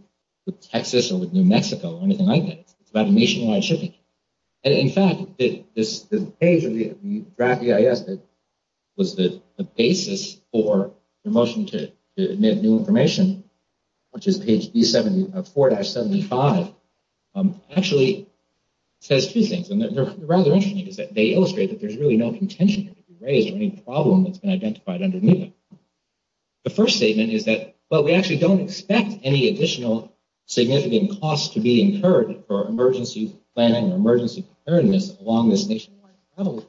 Texas or New Mexico or anything like that, but the nationwide shipments. In fact, the page in the draft EIS that was the basis for the motion to admit new information, which is page 4-75, actually says a few things. The first statement is that, well, we actually don't expect any additional significant costs to be incurred for emergency planning or emergency preparedness along this nationwide network.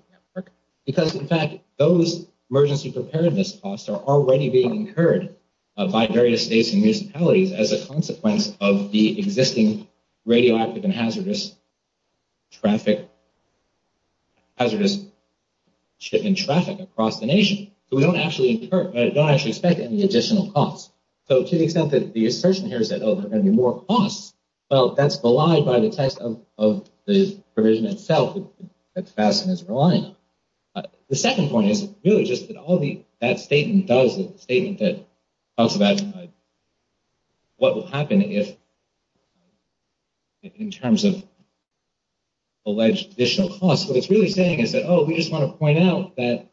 Because, in fact, those emergency preparedness costs are already being incurred by various states and municipalities as a consequence of the existing radioactive and hazardous shipping traffic across the nation. So we don't actually expect any additional costs. So to the extent that the assertion here is that, oh, there are going to be more costs, well, that's belied by the text of the provision itself that's passed in this reliance. The second point is really just that all that statement does is a statement that talks about what will happen if, in terms of alleged additional costs, what it's really saying is that, oh, we just want to point out that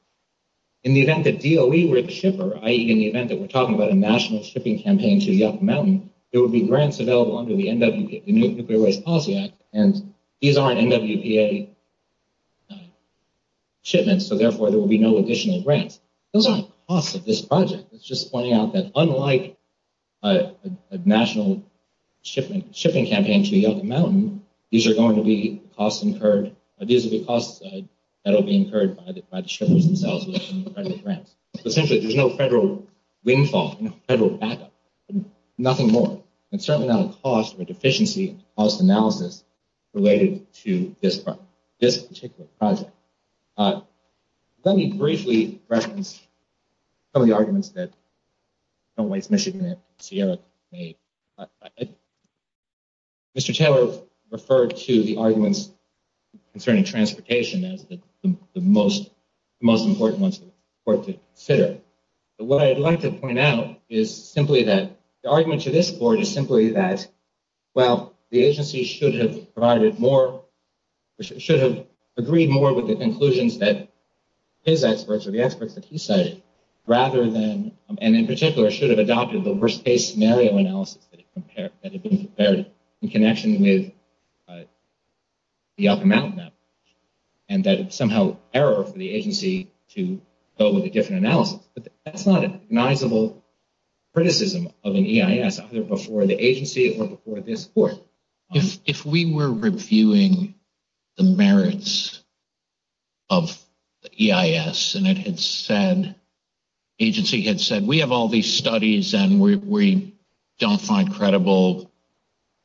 in the event that DOE were to ship her, i.e. in the event that we're talking about a national shipping campaign to Yucca Mountain, there will be grants available under the NWPA, the Nuclear Waste Policy Act, and these aren't NWPA shipments, so therefore there will be no additional grants. Those aren't the costs of this project. It's just pointing out that unlike a national shipping campaign to Yucca Mountain, these are going to be costs incurred, these will be costs that will be incurred by the shipments themselves. Essentially, there's no federal windfall, no federal capital, nothing more. It's certainly not a cost of efficiency, cost analysis related to this project, this particular project. Let me briefly reference some of the arguments that the Waste Michigan and Sierra made. Mr. Taylor referred to the arguments concerning transportation as the most important ones for us to consider. What I'd like to point out is simply that the argument to this board is simply that, well, the agency should have provided more, should have agreed more with the conclusions that his experts or the experts that he cited, rather than, and in particular, should have adopted the worst case scenario analysis that had been prepared in connection with the Yucca Mountain Act, and that it's somehow error for the agency to go with a different analysis. That's not an admissible criticism of an EIS, either before the agency or before this board. If we were reviewing the merits of the EIS, and it had said, agency had said, we have all these studies, and we don't find credible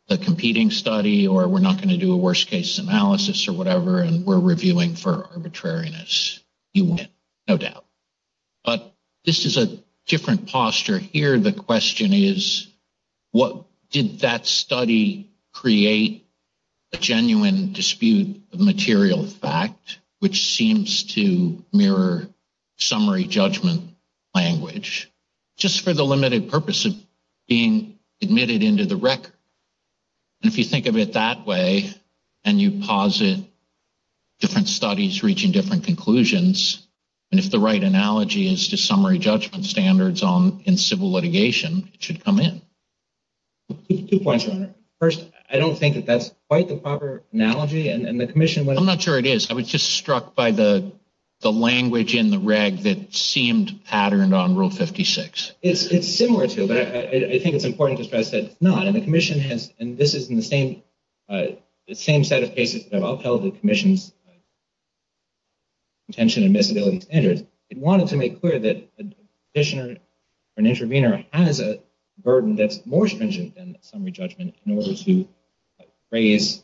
the competing study, or we're not going to do a worst case analysis or whatever, and we're reviewing for arbitrariness, you win, no doubt. But this is a different posture here. The question is, did that study create a genuine dispute of material fact, which seems to mirror summary judgment language, just for the limited purpose of being admitted into the record? If you think of it that way, and you posit different studies reaching different conclusions, and if the right analogy is to summary judgment standards in civil litigation, it should come in. Two points on it. First, I don't think that that's quite the proper analogy, and the commission— I'm not sure it is. I was just struck by the language in the reg that seemed patterned on Rule 56. It's similar to it, but I think it's important to stress that it's not. Now, the commission has—and this is in the same set of cases that I'll tell the commission's attention to disability standards— it wanted to make clear that a petitioner or an intervener has a burden that's more stringent than summary judgment in order to raise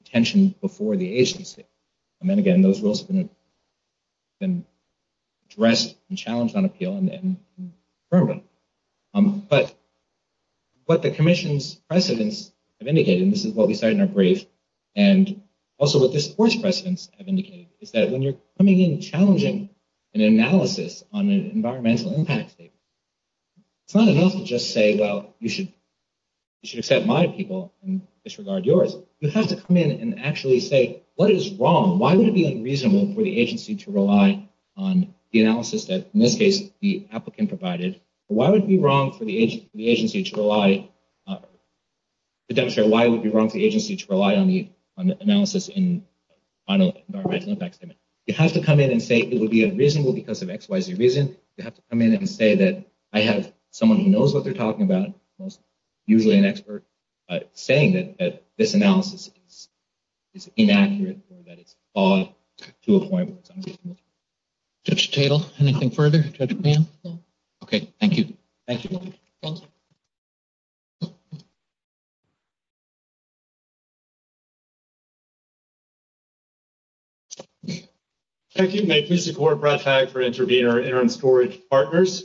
attention before the agency. And then again, those rules can be addressed and challenged on appeal and then confirmed. But what the commission's precedents have indicated—and this is what we said in our brief— and also what this court's precedents have indicated is that when you're coming in and challenging an analysis on an environmental impact case, it's not enough to just say, well, you should accept my people and disregard yours. You have to come in and actually say, what is wrong? Why would it be unreasonable for the agency to rely on the analysis that, in this case, the applicant provided? Why would it be wrong for the agency to rely on the analysis on an environmental impact case? It has to come in and say it would be unreasonable because of XYZ reasons. It has to come in and say that I have someone who knows what they're talking about, usually an expert, saying that this analysis is inaccurate and that it's flawed to a point. Mr. Tittle, anything further? Okay, thank you. Thank you. Thank you. Thank you to Court Broadside for intervening on our interim storage partners.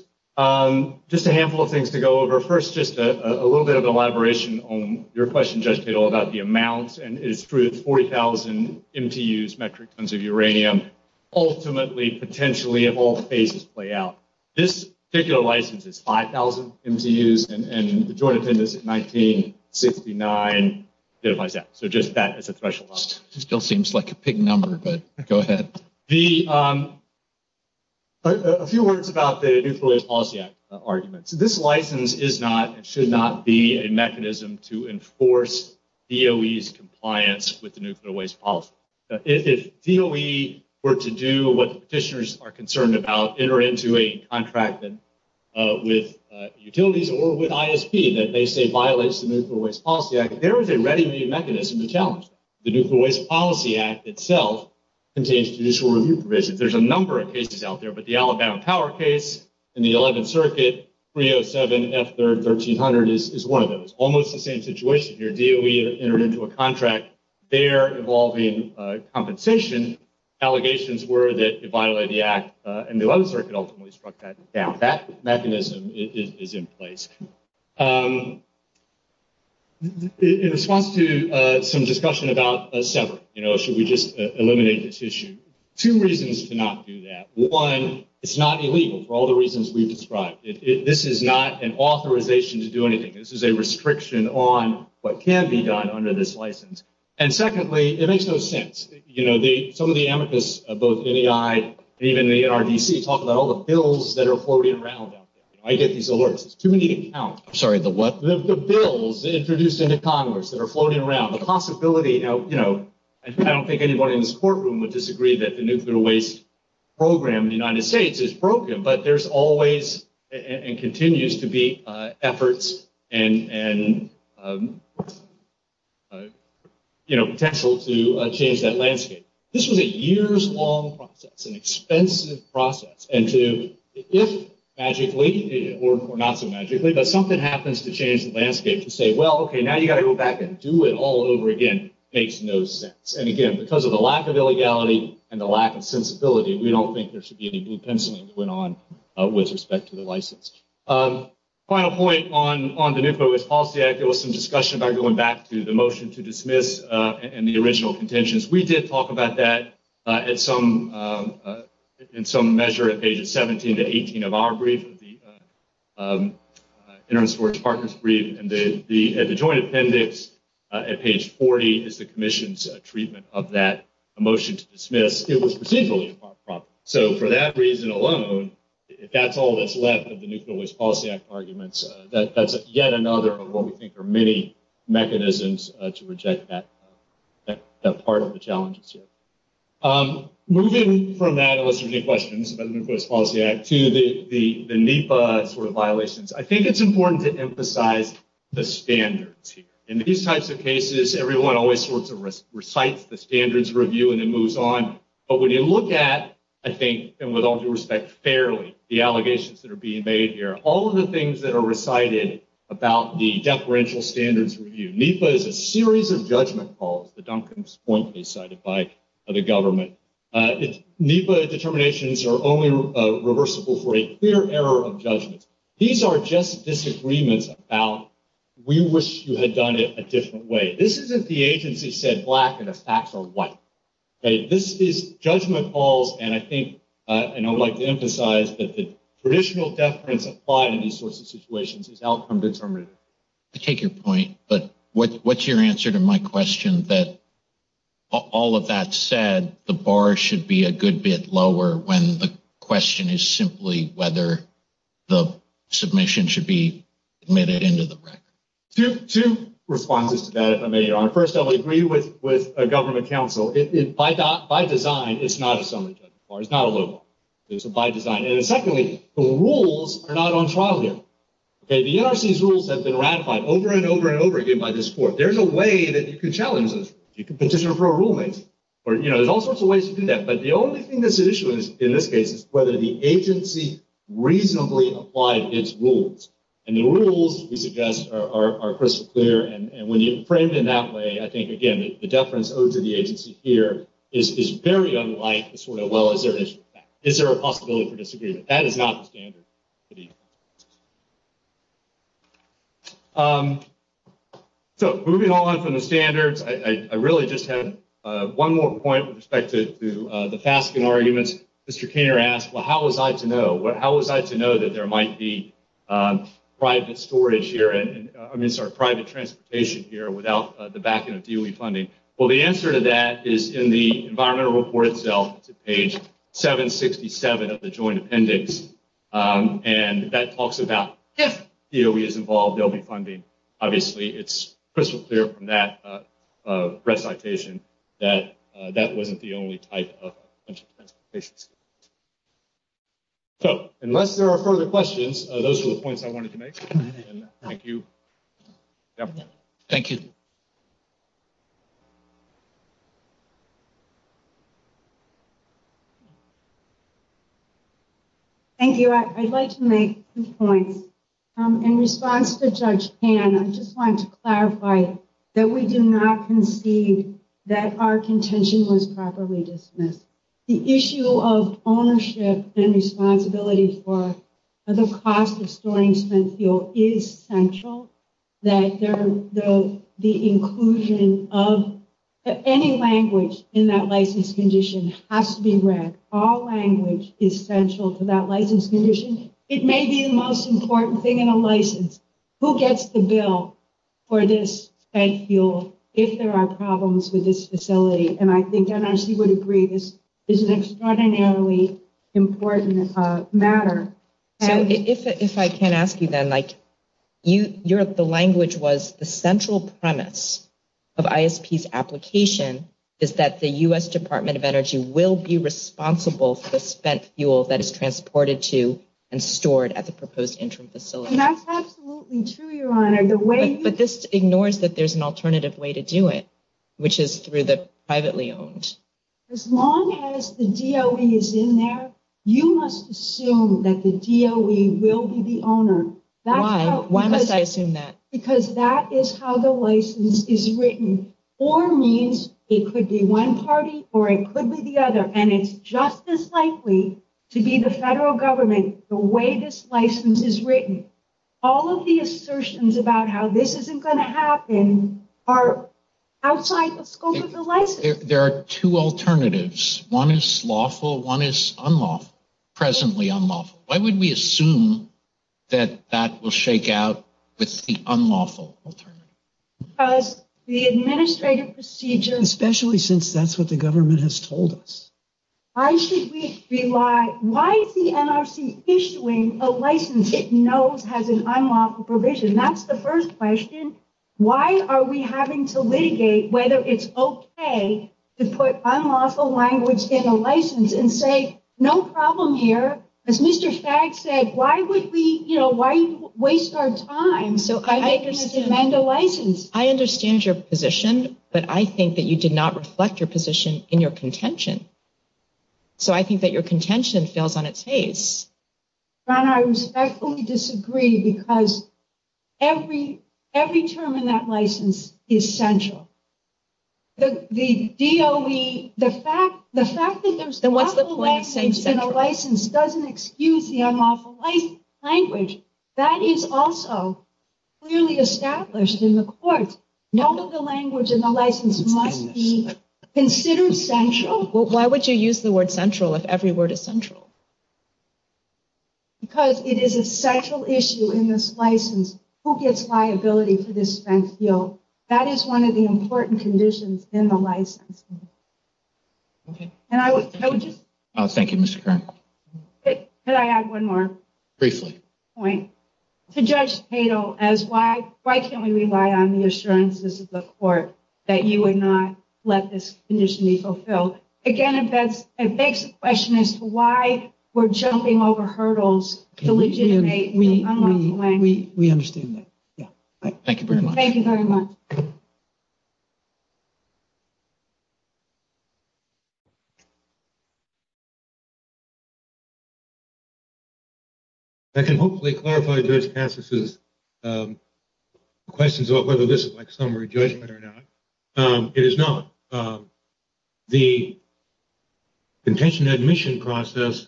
Just a handful of things to go over. First, just a little bit of elaboration on your question, Judge Tittle, about the amounts. And it's true that 40,000 MTUs, metric tons of uranium, ultimately, potentially, of all cases play out. This particular license is 5,000 MTUs, and the joint attendance is 1969. So just that as a threshold. Still seems like a big number, but go ahead. A few words about the Nuclear Waste Policy Act argument. This license is not and should not be a mechanism to enforce DOE's compliance with the Nuclear Waste Policy. If DOE were to do what the petitioners are concerned about, enter into a contract with utilities or with ISP that they say violates the Nuclear Waste Policy Act, there is a ready-made mechanism to challenge it. The Nuclear Waste Policy Act itself contains traditional removal provisions. There's a number of cases out there, but the Alabama Power case in the 11th Circuit, 307 F. 3rd, 1300, is one of those. Almost the same situation here. DOE has entered into a contract there involving compensation. Allegations were that it violated the Act, and the 11th Circuit ultimately struck that down. That mechanism is in place. In response to some discussion about subverting, you know, should we just eliminate this issue, two reasons to not do that. One, it's not illegal for all the reasons we've described. This is not an authorization to do anything. This is a restriction on what can be done under this license. And secondly, it makes no sense. You know, some of the amicus of both AI and even the NRDC talk about all the bills that are floating around. I get these alerts. I'm sorry, the what? The bills introduced into Congress that are floating around. The possibility, you know, I don't think anyone in this courtroom would disagree that the nuclear waste program in the United States is broken, but there's always and continues to be efforts and, you know, potential to change that landscape. This is a years-long process, an expensive process. And to, if magically, or not so magically, but something happens to change the landscape, to say, well, okay, now you've got to go back and do it all over again, makes no sense. And, again, because of the lack of illegality and the lack of sensibility, we don't think there should be any new penciling put on with respect to the license. Final point on the nuclear waste policy act. There was some discussion about going back to the motion to dismiss and the original contentions. We did talk about that in some measure at pages 17 to 18 of our brief, the Interim Storage Partners brief. And the joint appendix at page 40 is the commission's treatment of that motion to dismiss. It was presumably a problem. So for that reason alone, if that's all that's left of the nuclear waste policy act arguments, that's yet another of what we think are many mechanisms to reject that part of the challenges here. Moving from that, unless you have any questions about the nuclear waste policy act, to the NEPA sort of violations, I think it's important to emphasize the standards here. In these types of cases, everyone always sorts of recites the standards review and then moves on. But when you look at, I think, and with all due respect, fairly, the allegations that are being made here, all of the things that are recited about the deferential standards review, NEPA is a series of judgment calls, to Duncan's point that was cited by the government. NEPA determinations are only reversible for a clear error of judgment. These are just disagreements about we wish you had done it a different way. This isn't the agency said black and the facts are white. This is judgment calls, and I would like to emphasize that the traditional deference applied in these sorts of situations is outcome determined. I take your point, but what's your answer to my question that all of that said, the bar should be a good bit lower when the question is simply whether the submission should be admitted into the record? Two responses to that, if I may. First, I would agree with a government counsel. By design, it's not a summary judgment. It's not a low bar. It's by design. And secondly, the rules are not on trial here. The NRC's rules have been ratified over and over and over again by this court. There's a way that you could challenge this. You could petition for a rule change. There's all sorts of ways to do that. But the only thing that's at issue in this case is whether the agency reasonably applied its rules. And the rules, we suggest, are crystal clear. And when you frame it in that way, I think, again, the deference owed to the agency here is very unlike the sort of, well, is there a possibility for disagreement? That is not the standard. So moving on from the standards, I really just have one more point with respect to the fasking arguments. Mr. Keener asked, well, how was I to know? How was I to know that there might be private storage here, I'm sorry, private transportation here without the backing of DOE funding? Well, the answer to that is in the environmental report itself, page 767 of the joint appendix. And that talks about if DOE is involved, there will be funding. Obviously, it's crystal clear from that recitation that that wasn't the only type of transportation. So unless there are further questions, those are the points I wanted to make. Thank you. Thank you. Thank you. I'd like to make two points. In response to Judge Pan, I just want to clarify that we did not concede that our contention was properly dismissed. The issue of ownership and responsibility for the cost of storing spent fuel is central. That the inclusion of any language in that license condition has to be read. All language is central to that license condition. It may be the most important thing in a license. Who gets the bill for this spent fuel if there are problems with this facility? And I think MSP would agree this is an extraordinarily important matter. If I can ask you then, the language was the central premise of ISP's application is that the U.S. Department of Energy will be responsible for spent fuel that is transported to and stored at the proposed interim facility. That's absolutely true, Your Honor. But this ignores that there's an alternative way to do it, which is through the privately owned. As long as the DOE is in there, you must assume that the DOE will be the owner. Why? Why must I assume that? Because that is how the license is written. Or means it could be one party or it could be the other. And it's just as likely to be the federal government the way this license is written. All of the assertions about how this isn't going to happen are outside the scope of the license. There are two alternatives. One is lawful. One is unlawful. Presently unlawful. Why would we assume that that will shake out with the unlawful alternative? Because the administrative procedure... Especially since that's what the government has told us. Why is the NRC issuing a license it knows has an unlawful provision? That's the first question. Why are we having to litigate whether it's okay to put unlawful language in a license and say, no problem here. As Mr. Stagg said, why would we, you know, why waste our time? So I think we should amend the license. I understand your position, but I think that you did not reflect your position in your contention. So I think that your contention fails on its face. Donna, I respectfully disagree because every term in that license is essential. The DOE, the fact that there's unlawful language in a license doesn't excuse the unlawful language. That is also clearly established in the court. None of the language in the license must be considered central. Well, why would you use the word central if every word is central? Because it is a central issue in this license. Who gets liability for this spent bill? That is one of the important conditions in the license. Okay. And I would just... Thank you, Mr. Brown. Could I add one more? Briefly. Point. To Judge Cato, as why can't we rely on the assurances of the court that you would not let this condition be fulfilled? Again, a basic question is why we're jumping over hurdles to legitimate the unlawful language. We understand that. Thank you very much. Thank you very much. I can hopefully clarify Judge Cato's questions about whether this is like summary judgment or not. It is not. The contention admission process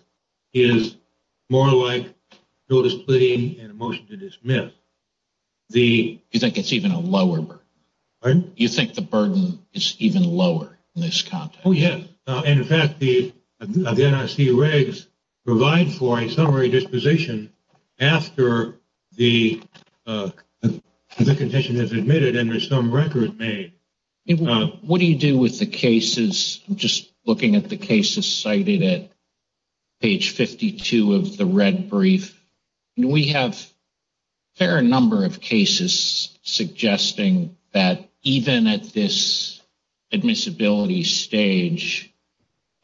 is more like notice pleading and motion to dismiss. You think it's even a lower burden? Pardon? You think the burden is even lower in this context? Oh, yeah. And, in fact, the NIC regs provide for a summary disposition after the condition is admitted and there's some record made. What do you do with the cases? I'm just looking at the cases cited at page 52 of the red brief. We have a fair number of cases suggesting that even at this admissibility stage,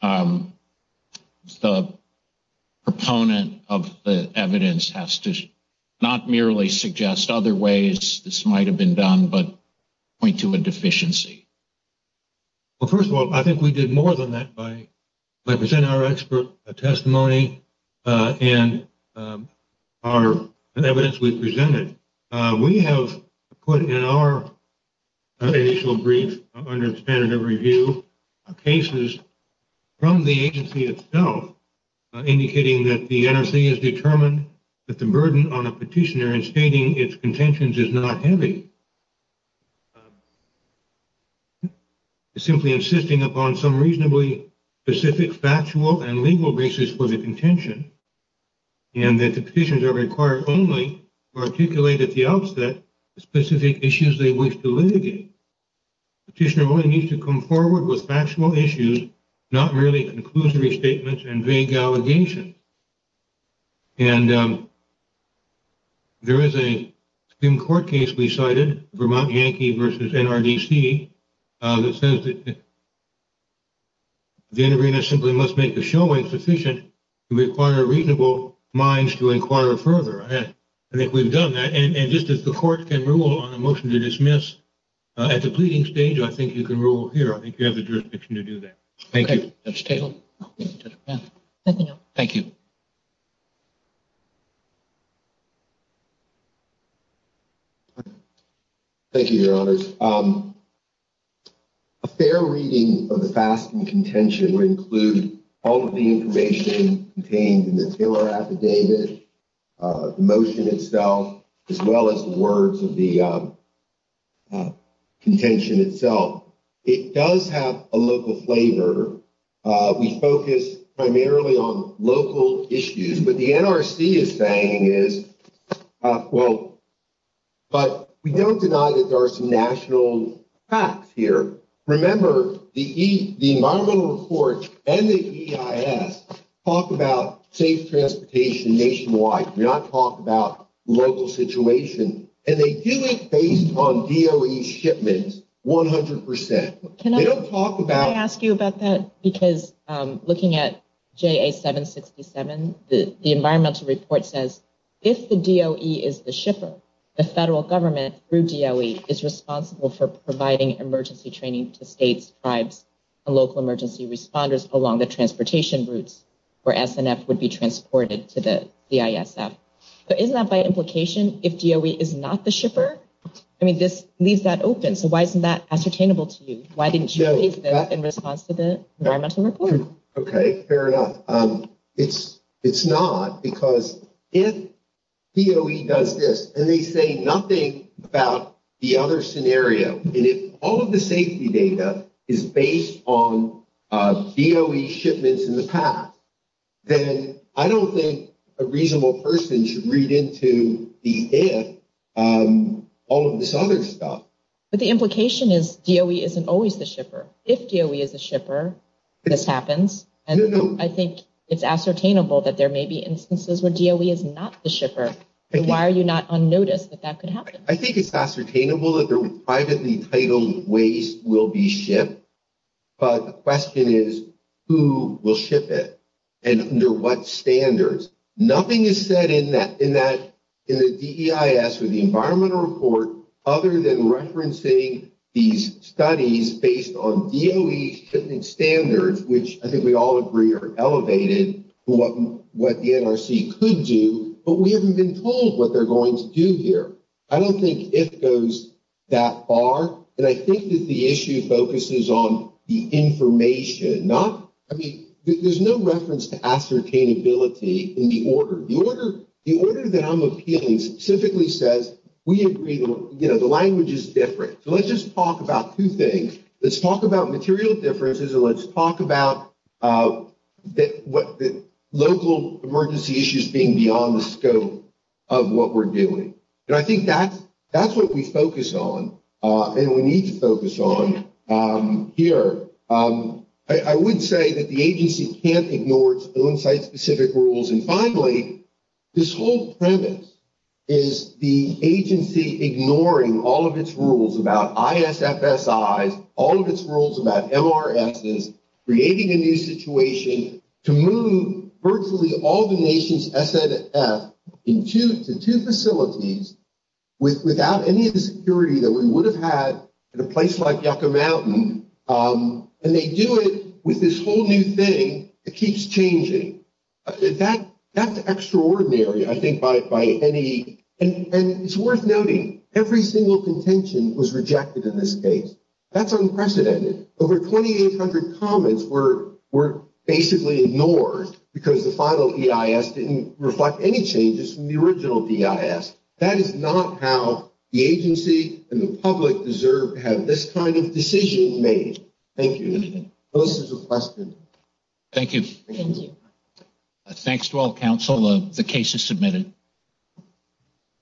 the proponent of the evidence has to not merely suggest other ways this might have been done but point to a deficiency. Well, first of all, I think we did more than that by presenting our expert testimony and the evidence we presented. We have put in our additional brief under standard of review cases from the agency itself indicating that the NRC has determined that the burden on a petitioner in stating its contentions is not heavy. It's simply insisting upon some reasonably specific factual and legal basis for the contention and that the petitions are required only to articulate at the outset the specific issues they wish to litigate. Petitioner only needs to come forward with factual issues, not merely conclusive statements and vague allegations. And there is a Supreme Court case we cited, Vermont Yankee versus NRDC, that says that the intervener simply must make the showing sufficient to require reasonable minds to inquire further. I think we've done that. And just as the court can rule on a motion to dismiss at the pleading stage, I think you can rule here. I think you have the jurisdiction to do that. Thank you. Nothing else. Thank you. Thank you, Your Honors. A fair reading of the facts and contention would include all of the information contained in the Taylor affidavit, the motion itself, as well as the words of the contention itself. It does have a local flavor. We focus primarily on local issues, but the NRC is saying is, well, but we don't deny that there are some national facts here. Remember, the environmental report and the EIS talk about safe transportation nationwide, not talk about local situation. And they do it based on DOE shipments 100%. Can I ask you about that? Because looking at JA-767, the environmental report says, if the DOE is the shipper, the federal government through DOE is responsible for providing emergency training to states, tribes, and local emergency responders along the transportation routes where SNF would be transported to the EISF. But isn't that by implication, if DOE is not the shipper? I mean, this leaves that open. So why isn't that ascertainable to you? Why didn't you take that in response to the environmental report? Okay, fair enough. It's not, because if DOE does this and they say nothing about the other scenario, and if all of the safety data is based on DOE shipments in the past, then I don't think a reasonable person should read into the if, all of this other stuff. But the implication is DOE isn't always the shipper. If DOE is the shipper, this happens. I think it's ascertainable that there may be instances where DOE is not the shipper. Why are you not on notice that that could happen? I think it's ascertainable that the privately titled waste will be shipped. But the question is, who will ship it? And under what standards? Nothing is said in the DEIS or the environmental report other than referencing these studies based on DOE's shipping standards, which I think we all agree are elevated, what the NRC could do. But we haven't been told what they're going to do here. I don't think it goes that far. And I think that the issue focuses on the information. I mean, there's no reference to ascertainability in the order. The order down with feelings typically says, you know, the language is different. So let's just talk about two things. Let's talk about material differences and let's talk about local emergency issues being beyond the scope of what we're doing. And I think that's what we focus on and we need to focus on here. I would say that the agency can't ignore its own site-specific rules. And finally, this whole premise is the agency ignoring all of its rules about ISFSI, all of its rules about MRXs, creating a new situation to move virtually all the nation's SFF into the two facilities without any of the security that we would have had in a place like Yucca Mountain. And they do it with this whole new thing that keeps changing. That's extraordinary, I think, by any – and it's worth noting, every single contention was rejected in this case. That's unprecedented. Over 2,800 comments were basically ignored because the final EIS didn't reflect any changes from the original EIS. That is not how the agency and the public deserve to have this kind of decision made. Thank you. Those are the questions. Thank you. Thank you. Thanks to all counsel. The case is submitted.